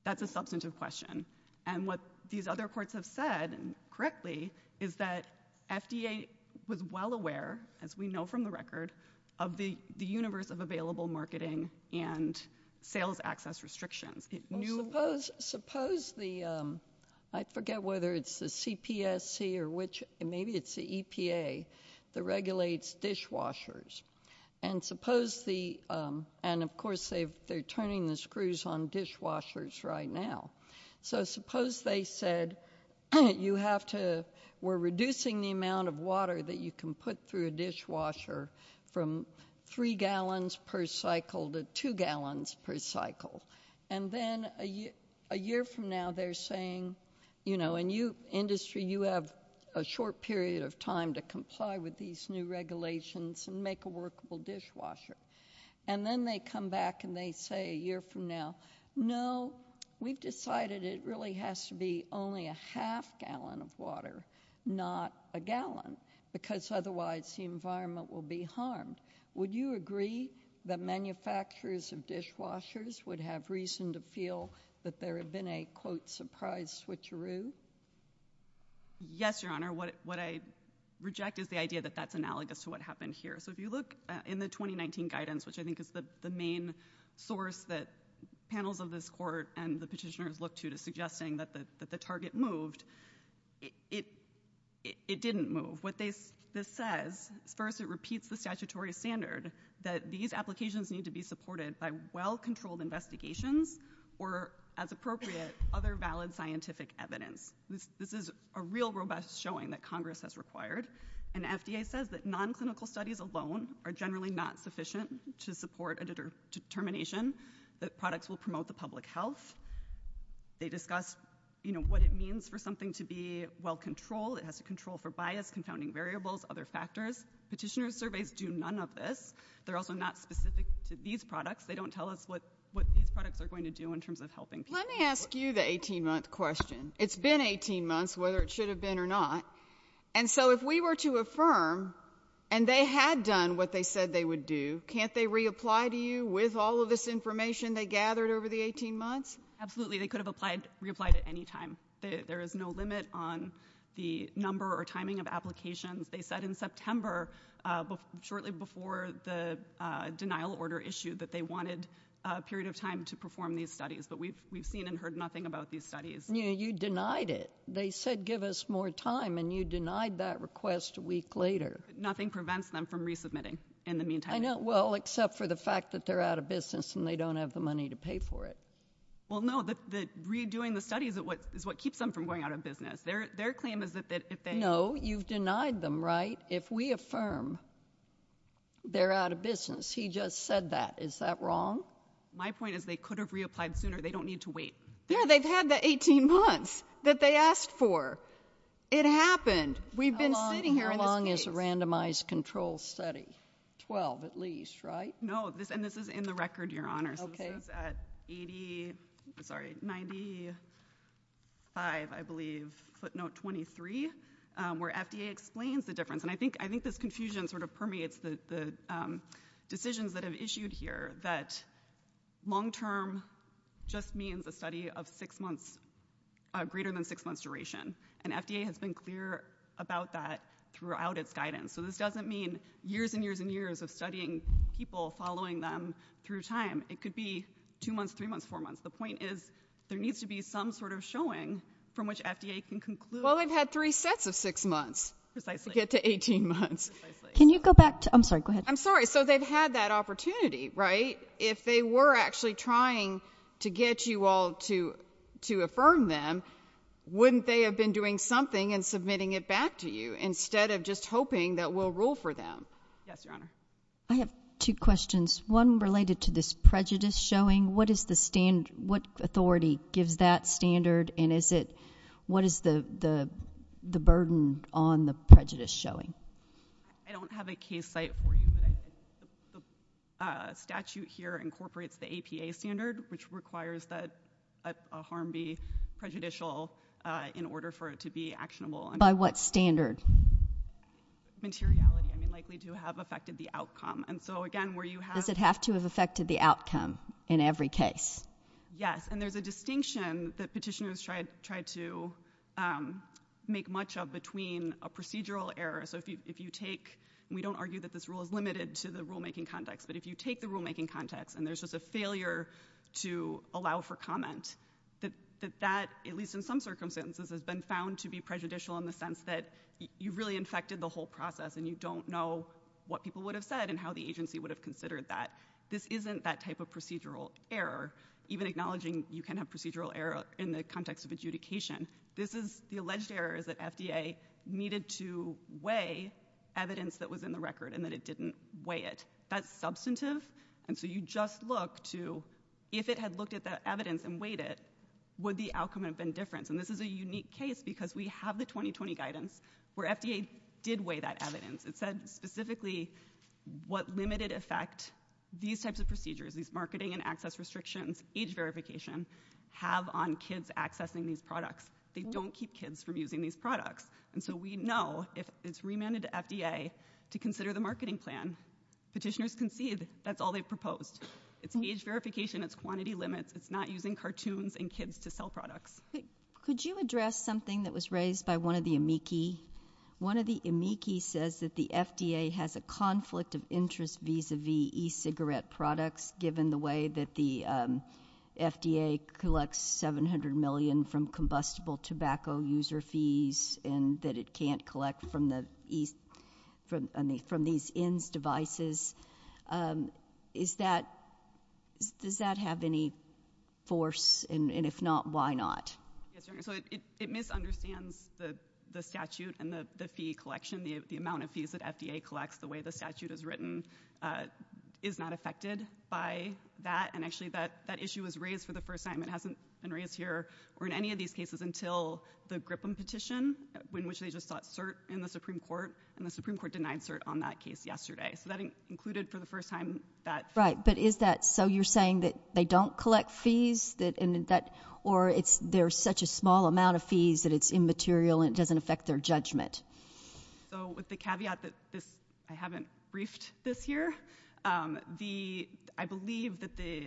That's a substantive question. And what these other courts have said correctly is that FDA was well aware, as we know from the record, of the universe of available marketing and sales access restrictions. Suppose the, I forget whether it's the CPSC or which, maybe it's the EPA that regulates dishwashers. And suppose the, and of course they're turning the screws on dishwashers right now. So suppose they said you have to, we're reducing the amount of water that you can put through a dishwasher from 3 gallons per cycle to 2 gallons per cycle. And then a year from now they're saying, you know, and you, industry, you have a short period of time to comply with these new regulations and make a workable dishwasher. And then they come back and they say a year from now, no, we've decided it really has to be only a half gallon of water, not a gallon, because otherwise the environment will be harmed. Would you agree that manufacturers of dishwashers would have reason to feel that there had been a, quote, surprise switcheroo? Yes, Your Honor. What I reject is the idea that that's analogous to what happened here. So if you look in the 2019 guidance, which I think is the main source that panels of this court and the petitioners look to to suggesting that the target moved, it didn't move. What this says, first it repeats the statutory standard that these applications need to be supported by well-controlled investigations or, as appropriate, other valid scientific evidence. This is a real robust showing that Congress has required. And FDA says that non-clinical studies alone are generally not sufficient to support a determination that products will promote the public health. They discuss, you know, what it means for something to be well-controlled. It has to control for bias, confounding variables, other factors. Petitioner surveys do none of this. They're also not specific to these products. They don't tell us what these products are going to do in terms of helping. Let me ask you the 18-month question. It's been 18 months, whether it should have been or not. And so if we were to affirm, and they had done what they said they would do, can't they reapply to you with all of this information they gathered over the 18 months? Absolutely, they could have applied, reapplied at any time. There is no limit on the number or denial order issue that they wanted a period of time to perform these studies. But we've seen and heard nothing about these studies. You denied it. They said give us more time, and you denied that request a week later. Nothing prevents them from resubmitting in the meantime. I know, well, except for the fact that they're out of business and they don't have the money to pay for it. Well, no, the redoing the studies is what keeps them from going out of business. Their claim is No, you've denied them, right? If we affirm they're out of business, he just said that. Is that wrong? My point is they could have reapplied sooner. They don't need to wait. Yeah, they've had the 18 months that they asked for. It happened. We've been sitting here. How long is a randomized control study? 12, at least, right? No, and this is in the record, Your Honor. This is at 85, I believe, footnote 23, where FDA explains the difference. I think this confusion sort of permeates the decisions that have issued here that long-term just means a study of greater than six months duration, and FDA has been clear about that throughout its guidance. This doesn't mean years and years and following them through time. It could be two months, three months, four months. The point is there needs to be some sort of showing from which FDA can conclude. Well, they've had three sets of six months to get to 18 months. Can you go back to, I'm sorry, go ahead. I'm sorry. So they've had that opportunity, right? If they were actually trying to get you all to affirm them, wouldn't they have been doing something and submitting it back to you instead of just hoping that we'll rule for them? Yes, Your Honor. I have two questions, one related to this prejudice showing. What authority gives that standard, and what is the burden on the prejudice showing? I don't have a case site for you, but I think the statute here incorporates the APA standard, which requires that a harm be prejudicial in order for it to be actionable. By what standard? Materiality. I mean, likely to have affected the outcome. And so again, where you have- Does it have to have affected the outcome in every case? Yes. And there's a distinction that petitioners tried to make much of between a procedural error. So if you take, we don't argue that this rule is limited to the rulemaking context, but if you take the rulemaking context and there's just a failure to allow for comment, that that, at least in some circumstances, has been found to be prejudicial in the sense that you really infected the whole process and you don't know what people would have said and how the agency would have considered that. This isn't that type of procedural error, even acknowledging you can have procedural error in the context of adjudication. This is, the alleged error is that FDA needed to weigh evidence that was in the record and that it didn't weigh it. That's substantive. And so you just look to, if it had looked at the evidence and weighed it, would the outcome have been different? And this is a unique case because we have the 2020 guidance where FDA did weigh that evidence. It said specifically what limited effect these types of procedures, these marketing and access restrictions, age verification, have on kids accessing these products. They don't keep kids from using these products. And so we know if it's remanded to FDA to consider the marketing plan, petitioners concede that's all they proposed. It's age verification, it's quantity limits, it's not using cartoons and kids to sell products. Could you address something that was raised by one of the amici? One of the amici says that the FDA has a conflict of interest vis-a-vis e-cigarette products, given the way that the FDA collects $700 million from combustible tobacco user fees and that it can't collect from these INS devices. Does that have any force? And if not, why not? Yes, Your Honor. So it misunderstands the statute and the fee collection, the amount of fees that FDA collects, the way the statute is written, is not affected by that. And actually that issue was raised for the first time. It hasn't been raised here or in any of these until the Grippen petition, in which they just sought cert in the Supreme Court, and the Supreme Court denied cert on that case yesterday. So that included for the first time. Right, but is that so you're saying that they don't collect fees, or there's such a small amount of fees that it's immaterial and it doesn't affect their judgment? So with the caveat that I haven't briefed this here, I believe that the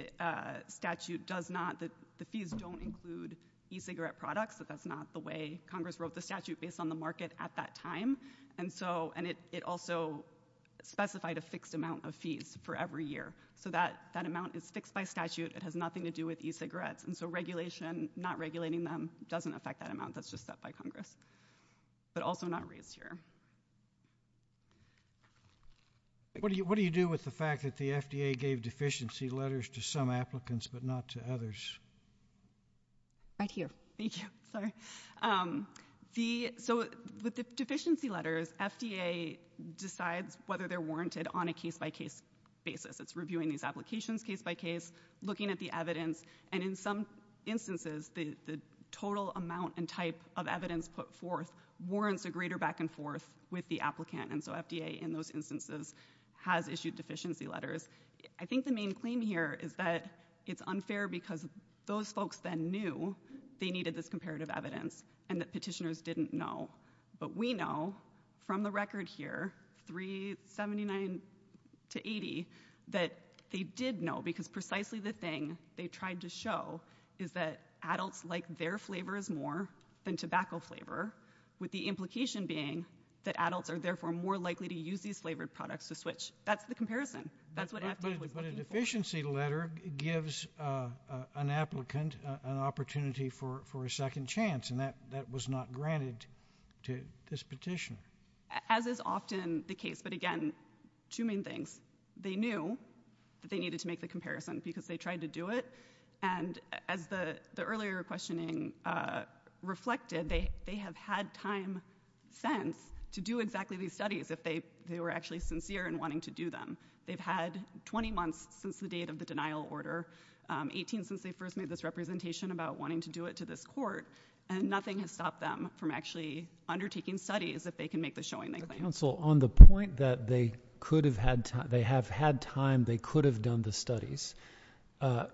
statute does not, the fees don't include e-cigarette products. That's not the way Congress wrote the statute based on the market at that time. And it also specified a fixed amount of fees for every year. So that amount is fixed by statute. It has nothing to do with e-cigarettes. And so regulation, not regulating them, doesn't affect that amount. That's just set by Congress, but also not raised here. What do you do with the fact that the FDA gave deficiency letters to some applicants, but not to others? Right here. Thank you. Sorry. So with the deficiency letters, FDA decides whether they're warranted on a case by case basis. It's reviewing these applications case by case, looking at the evidence. And in some instances, the total amount and type of evidence put forth warrants a greater back and forth with the applicant. And so FDA, in those instances, has issued deficiency letters. I think the main claim here is that it's unfair because those folks then knew they needed this comparative evidence and that petitioners didn't know. But we know from the record here, 379 to 80, that they did know because precisely the thing they tried to show is that adults like their flavors more than tobacco flavor, with the implication being that adults are therefore more likely to use these flavored products to switch. That's the comparison. But a deficiency letter gives an applicant an opportunity for a second chance, and that was not granted to this petition. As is often the case. But again, two main things. They knew that they needed to make the comparison because they tried to do it. And as the earlier questioning reflected, they have had time since to do exactly these studies if they were actually sincere in wanting to do them. They've had 20 months since the date of the denial order, 18 since they first made this representation about wanting to do it to this court, and nothing has stopped them from actually undertaking studies if they can make the showing they claim. Counsel, on the point that they have had time, they could have done the studies,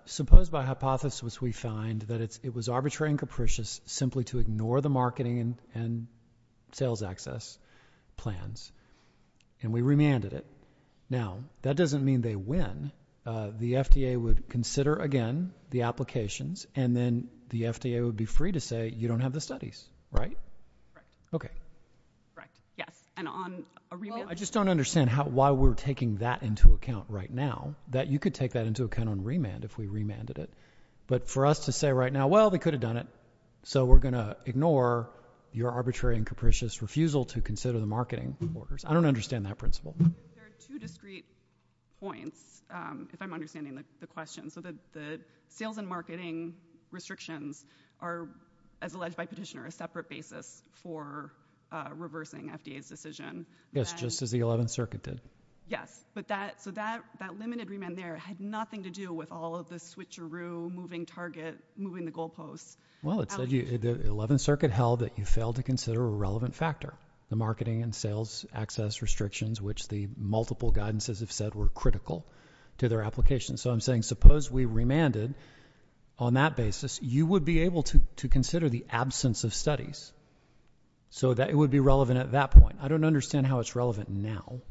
suppose by hypothesis we find that it was arbitrary and capricious simply to ignore the and we remanded it. Now, that doesn't mean they win. The FDA would consider, again, the applications, and then the FDA would be free to say you don't have the studies, right? Right. Okay. Right. Yes. And on a remand? I just don't understand why we're taking that into account right now, that you could take that into account on remand if we remanded it. But for us to say right now, well, they could have done it, so we're going to ignore your arbitrary and capricious refusal to consider the marketing orders. I don't understand that principle. There are two discrete points, if I'm understanding the question. So the sales and marketing restrictions are, as alleged by Petitioner, a separate basis for reversing FDA's decision. Yes, just as the 11th Circuit did. Yes. So that limited remand there had nothing to do with all of the switcheroo, moving target, moving the goalposts. Well, it said the 11th Circuit held that you failed to consider a relevant factor, the marketing and sales access restrictions, which the multiple guidances have said were critical to their application. So I'm saying suppose we remanded on that basis, you would be able to consider the absence of studies, so that it would be relevant at that point. I don't understand how it's relevant now.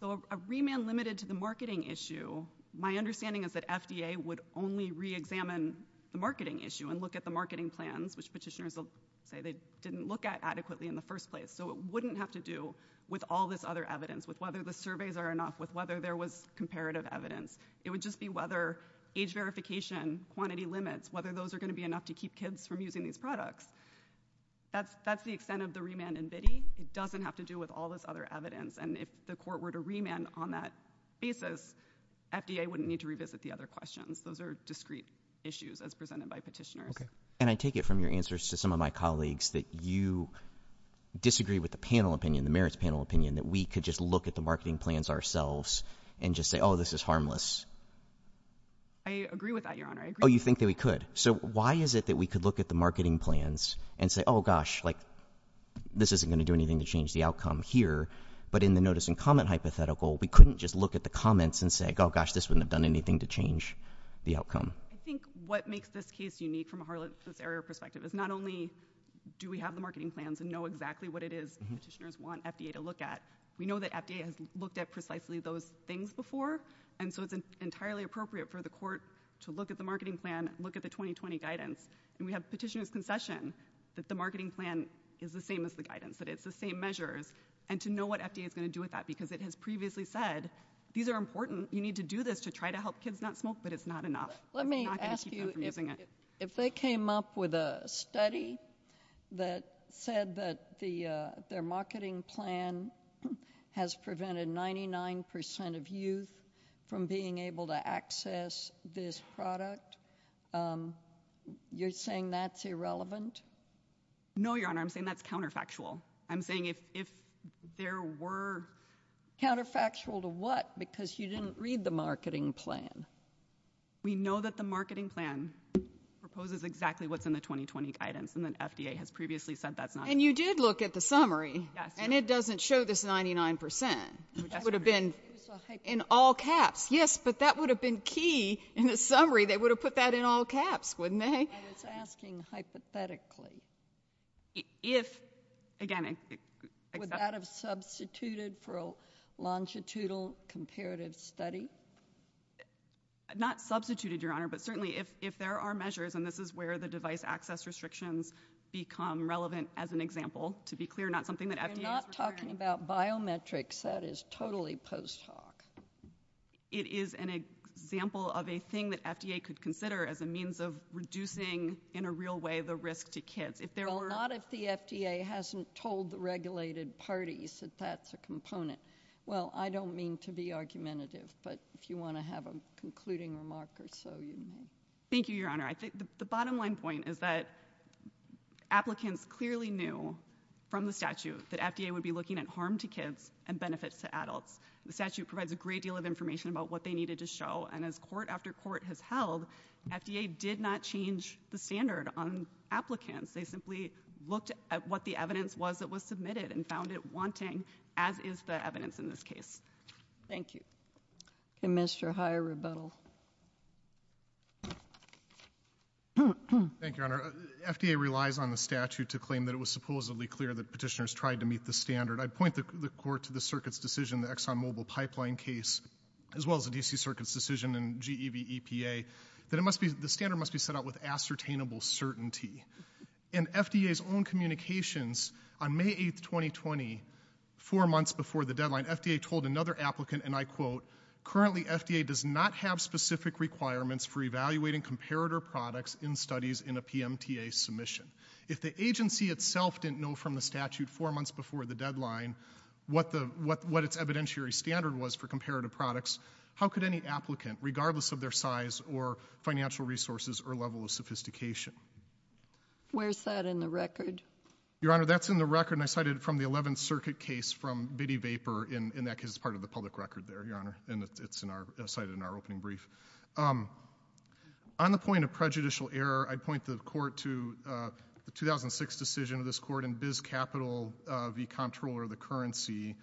So a remand limited to the marketing issue, my understanding is that FDA would only re-examine the marketing issue and look at the marketing plans, which Petitioners will say they didn't look at adequately in the first place. So it wouldn't have to do with all this other evidence, with whether the surveys are enough, with whether there was comparative evidence. It would just be whether age verification, quantity limits, whether those are going to be enough to keep kids from using these products. That's the extent of the remand in BIDI. It doesn't have to do with all this other evidence. And if the Court were to remand on that basis, FDA wouldn't need to revisit the other questions. Those are discrete issues as presented by Petitioners. And I take it from your answers to some of my colleagues that you disagree with the panel opinion, the merits panel opinion, that we could just look at the marketing plans ourselves and just say, oh, this is harmless. I agree with that, Your Honor. Oh, you think that we could. So why is it that we could look at the marketing plans and say, oh, gosh, this isn't going to do anything to change the outcome here. But in the notice and comment hypothetical, we couldn't just look at the comments and say, oh, gosh, this wouldn't have done anything to change the outcome. I think what makes this case unique from a harmless area perspective is not only do we have the marketing plans and know exactly what it is Petitioners want FDA to look at. We know that FDA has looked at precisely those things before. And so it's entirely appropriate for the Court to look at the marketing plan, look at the 2020 guidance. And we have Petitioners' concession that the marketing plan is the same as the guidance, that it's the same measures, and to know what FDA is going to do with that. Because it has previously said, these are important. You need to do this to try to help kids not smoke, but it's not enough. Let me ask you, if they came up with a study that said that their marketing plan has prevented 99 percent of youth from being able to access this product, you're saying that's irrelevant? No, Your Honor. I'm saying that's counterfactual. I'm saying if there were— Counterfactual to what? Because you didn't read the marketing plan. We know that the marketing plan proposes exactly what's in the 2020 guidance, and that FDA has previously said that's not— And you did look at the summary. Yes, Your Honor. And it doesn't show this 99 percent. It would have been in all caps. Yes, but that would have been key in the summary. They would have put that in all caps, wouldn't they? I was asking hypothetically. If, again— Would that have substituted for a longitudinal comparative study? Not substituted, Your Honor, but certainly if there are measures, and this is where the device access restrictions become relevant as an example, to be clear, not something that FDA— We're not talking about biometrics. That is totally post hoc. It is an example of a thing that FDA could consider as a means of reducing, in a real way, the risk to kids. If there were— Well, not if the FDA hasn't told the regulated parties that that's a component. Well, I don't mean to be argumentative, but if you want to have a concluding remark or so, you may. Thank you, Your Honor. The bottom line point is that applicants clearly knew from the statute that FDA would be looking at harm to kids and benefits to adults. The statute provides a great deal of information about what they needed to show, and as court after court has held, FDA did not change the standard on applicants. They simply looked at what the evidence was that was submitted and found it wanting, as is the evidence in this case. Thank you. Commissioner Hyer, rebuttal. Thank you, Your Honor. FDA relies on the statute to claim that it was supposedly clear that petitioners tried to meet the standard. I point the court to the circuit's decision, the ExxonMobil pipeline case, as well as the D.C. Circuit's decision and GEV EPA, that the standard must be set out with ascertainable certainty, and FDA's own communications on May 8, 2020, four months before the deadline, FDA told another applicant, and I quote, currently FDA does not have specific requirements for evaluating comparator products in studies in a PMTA submission. If the agency itself didn't know from the statute four months before the deadline what its evidentiary standard was for comparator products, how could any applicant, regardless of their size or financial resources or level of sophistication? Where's that in the record? Your Honor, that's in the record, and I cited it from the 11th Circuit case from Biddy Vapor, and that case is part of the public record there, Your Honor, and it's cited in our opening brief. On the point of prejudicial error, I'd point the court to the 2006 decision of this court in Biz Capital v. Comptroller of the Currency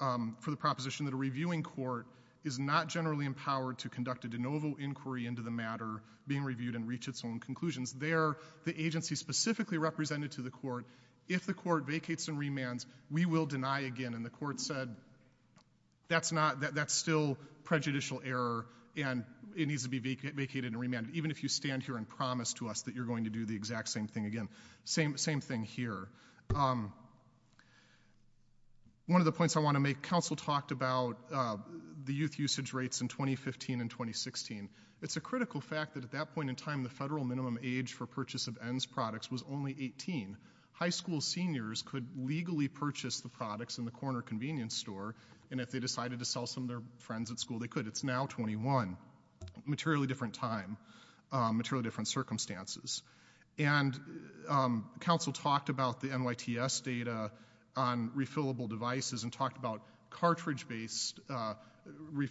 for the proposition that a reviewing court is not generally empowered to conduct a de novo inquiry into the matter, being reviewed, and reach its own conclusions. There, the agency specifically represented to the court, if the court vacates and remands, we will deny again, and the court said, that's still prejudicial error, and it needs to be vacated and remanded, even if you stand here and promise to us that you're going to do the exact same thing again. Same thing here. One of the points I want to make, counsel talked about the youth usage rates in 2015 and 2016. It's a critical fact that at that point in time, the federal minimum age for purchase of ENDS products was only 18. High school seniors could legally purchase the products in the corner convenience store, and if they decided to sell some to their friends at school, they could. It's now 21, materially different time, materially different circumstances, and counsel talked about the NYTS data on refillable devices and talked about cartridge-based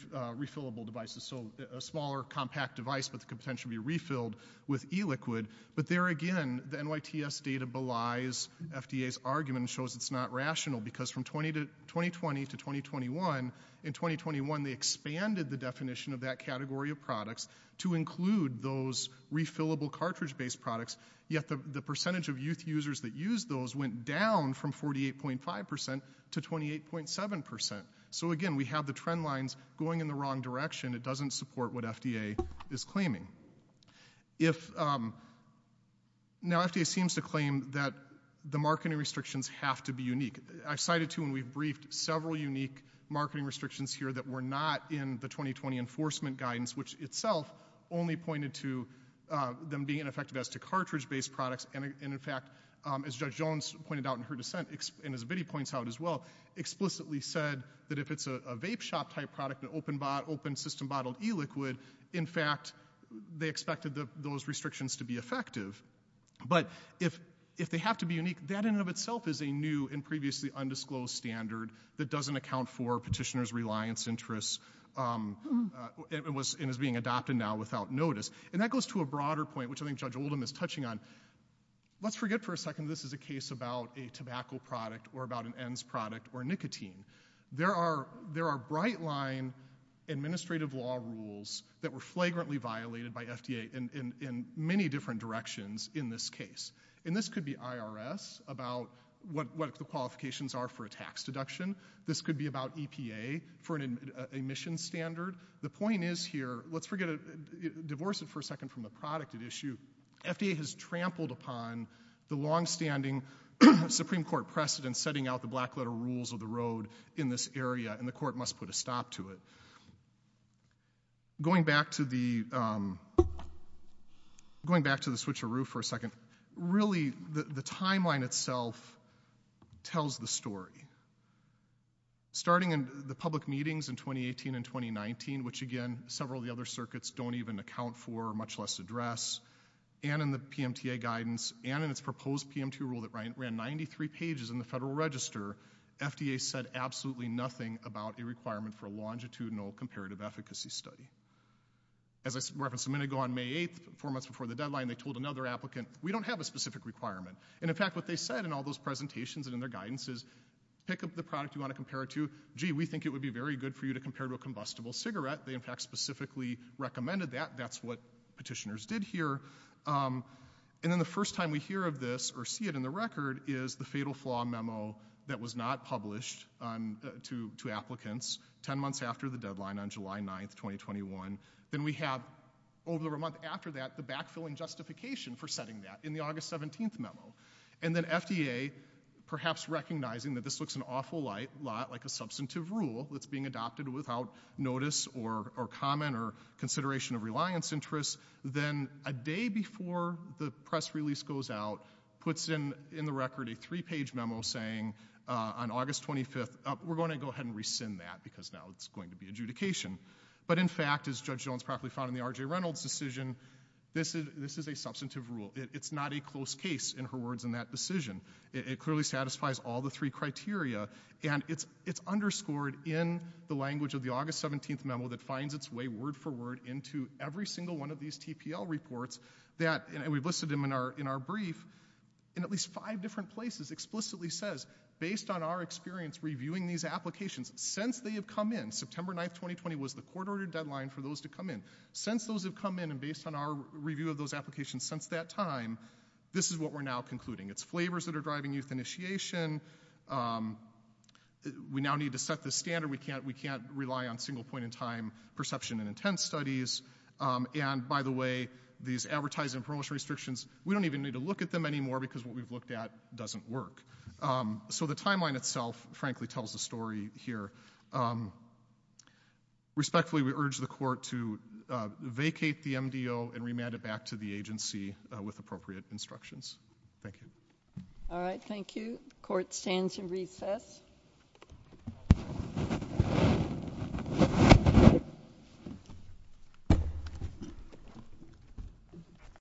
refillable devices, so a smaller, compact device, but it could potentially be refilled with e-liquid, but there again, the NYTS data belies FDA's argument and shows it's not rational, because from 2020 to 2021, in 2021, they expanded the definition of that category of products to include those refillable cartridge-based products, yet the percentage of youth users that used those went down from 48.5% to 28.7%, so again, we have the trend lines going in the wrong direction. It doesn't support what FDA is claiming. Now, FDA seems to claim that the marketing restrictions have to be unique. I've cited, too, and we've briefed several unique marketing restrictions here that were not in the 2020 enforcement guidance, which itself only pointed to them being ineffective as to cartridge-based products, and in fact, as Judge Jones pointed out in her dissent, and as Biddy points out as well, explicitly said that if it's a vape shop-type product, an open-system bottled e-liquid, in fact, they expected those restrictions to be effective, but if they have to be unique, that in and of itself is a new and previously undisclosed standard that doesn't account for and is being adopted now without notice, and that goes to a broader point, which I think Judge Oldham is touching on. Let's forget for a second this is a case about a tobacco product or about an ENDS product or nicotine. There are bright-line administrative law rules that were flagrantly violated by FDA in many different directions in this case, and this could be IRS about what the point is here. Let's forget it. Divorce it for a second from the product at issue. FDA has trampled upon the long-standing Supreme Court precedent setting out the black-letter rules of the road in this area, and the court must put a stop to it. Going back to the switcheroo for a second, really the timeline itself tells the story. Starting in the public meetings in 2018 and 2019, which again several of the other circuits don't even account for, much less address, and in the PMTA guidance and in its proposed PMT rule that ran 93 pages in the Federal Register, FDA said absolutely nothing about a requirement for a longitudinal comparative efficacy study. As I referenced a minute ago on May 8th, four months before the deadline, they told another applicant, we don't have a specific requirement, and in fact what they said in all those presentations and in their guidance is pick up the product you want to compare it to. Gee, we think it would be good for you to compare it to a combustible cigarette. They in fact specifically recommended that. That's what petitioners did here, and then the first time we hear of this or see it in the record is the fatal flaw memo that was not published to applicants 10 months after the deadline on July 9th, 2021. Then we have over a month after that the backfilling justification for setting that in the August 17th memo, and then FDA perhaps recognizing that this looks an unsubstantive rule that's being adopted without notice or comment or consideration of reliance interests, then a day before the press release goes out, puts in the record a three-page memo saying on August 25th, we're going to go ahead and rescind that because now it's going to be adjudication, but in fact as Judge Jones properly found in the R.J. Reynolds decision, this is a substantive rule. It's not a close case in her words in that decision. It clearly satisfies all three criteria, and it's underscored in the language of the August 17th memo that finds its way word for word into every single one of these TPL reports that we've listed in our brief in at least five different places explicitly says based on our experience reviewing these applications since they have come in, September 9th, 2020 was the court-ordered deadline for those to come in. Since those have come in and based on our review of those applications since that time, this is what we're now concluding. It's flavors that are driving youth initiation, um, we now need to set the standard. We can't, we can't rely on single point in time perception and intent studies, um, and by the way, these advertising promotion restrictions, we don't even need to look at them anymore because what we've looked at doesn't work. Um, so the timeline itself frankly tells the story here. Um, respectfully, we urge the court to vacate the MDO and remand it back to the agency with appropriate instructions. Thank you. All right. Thank you. Court stands in recess.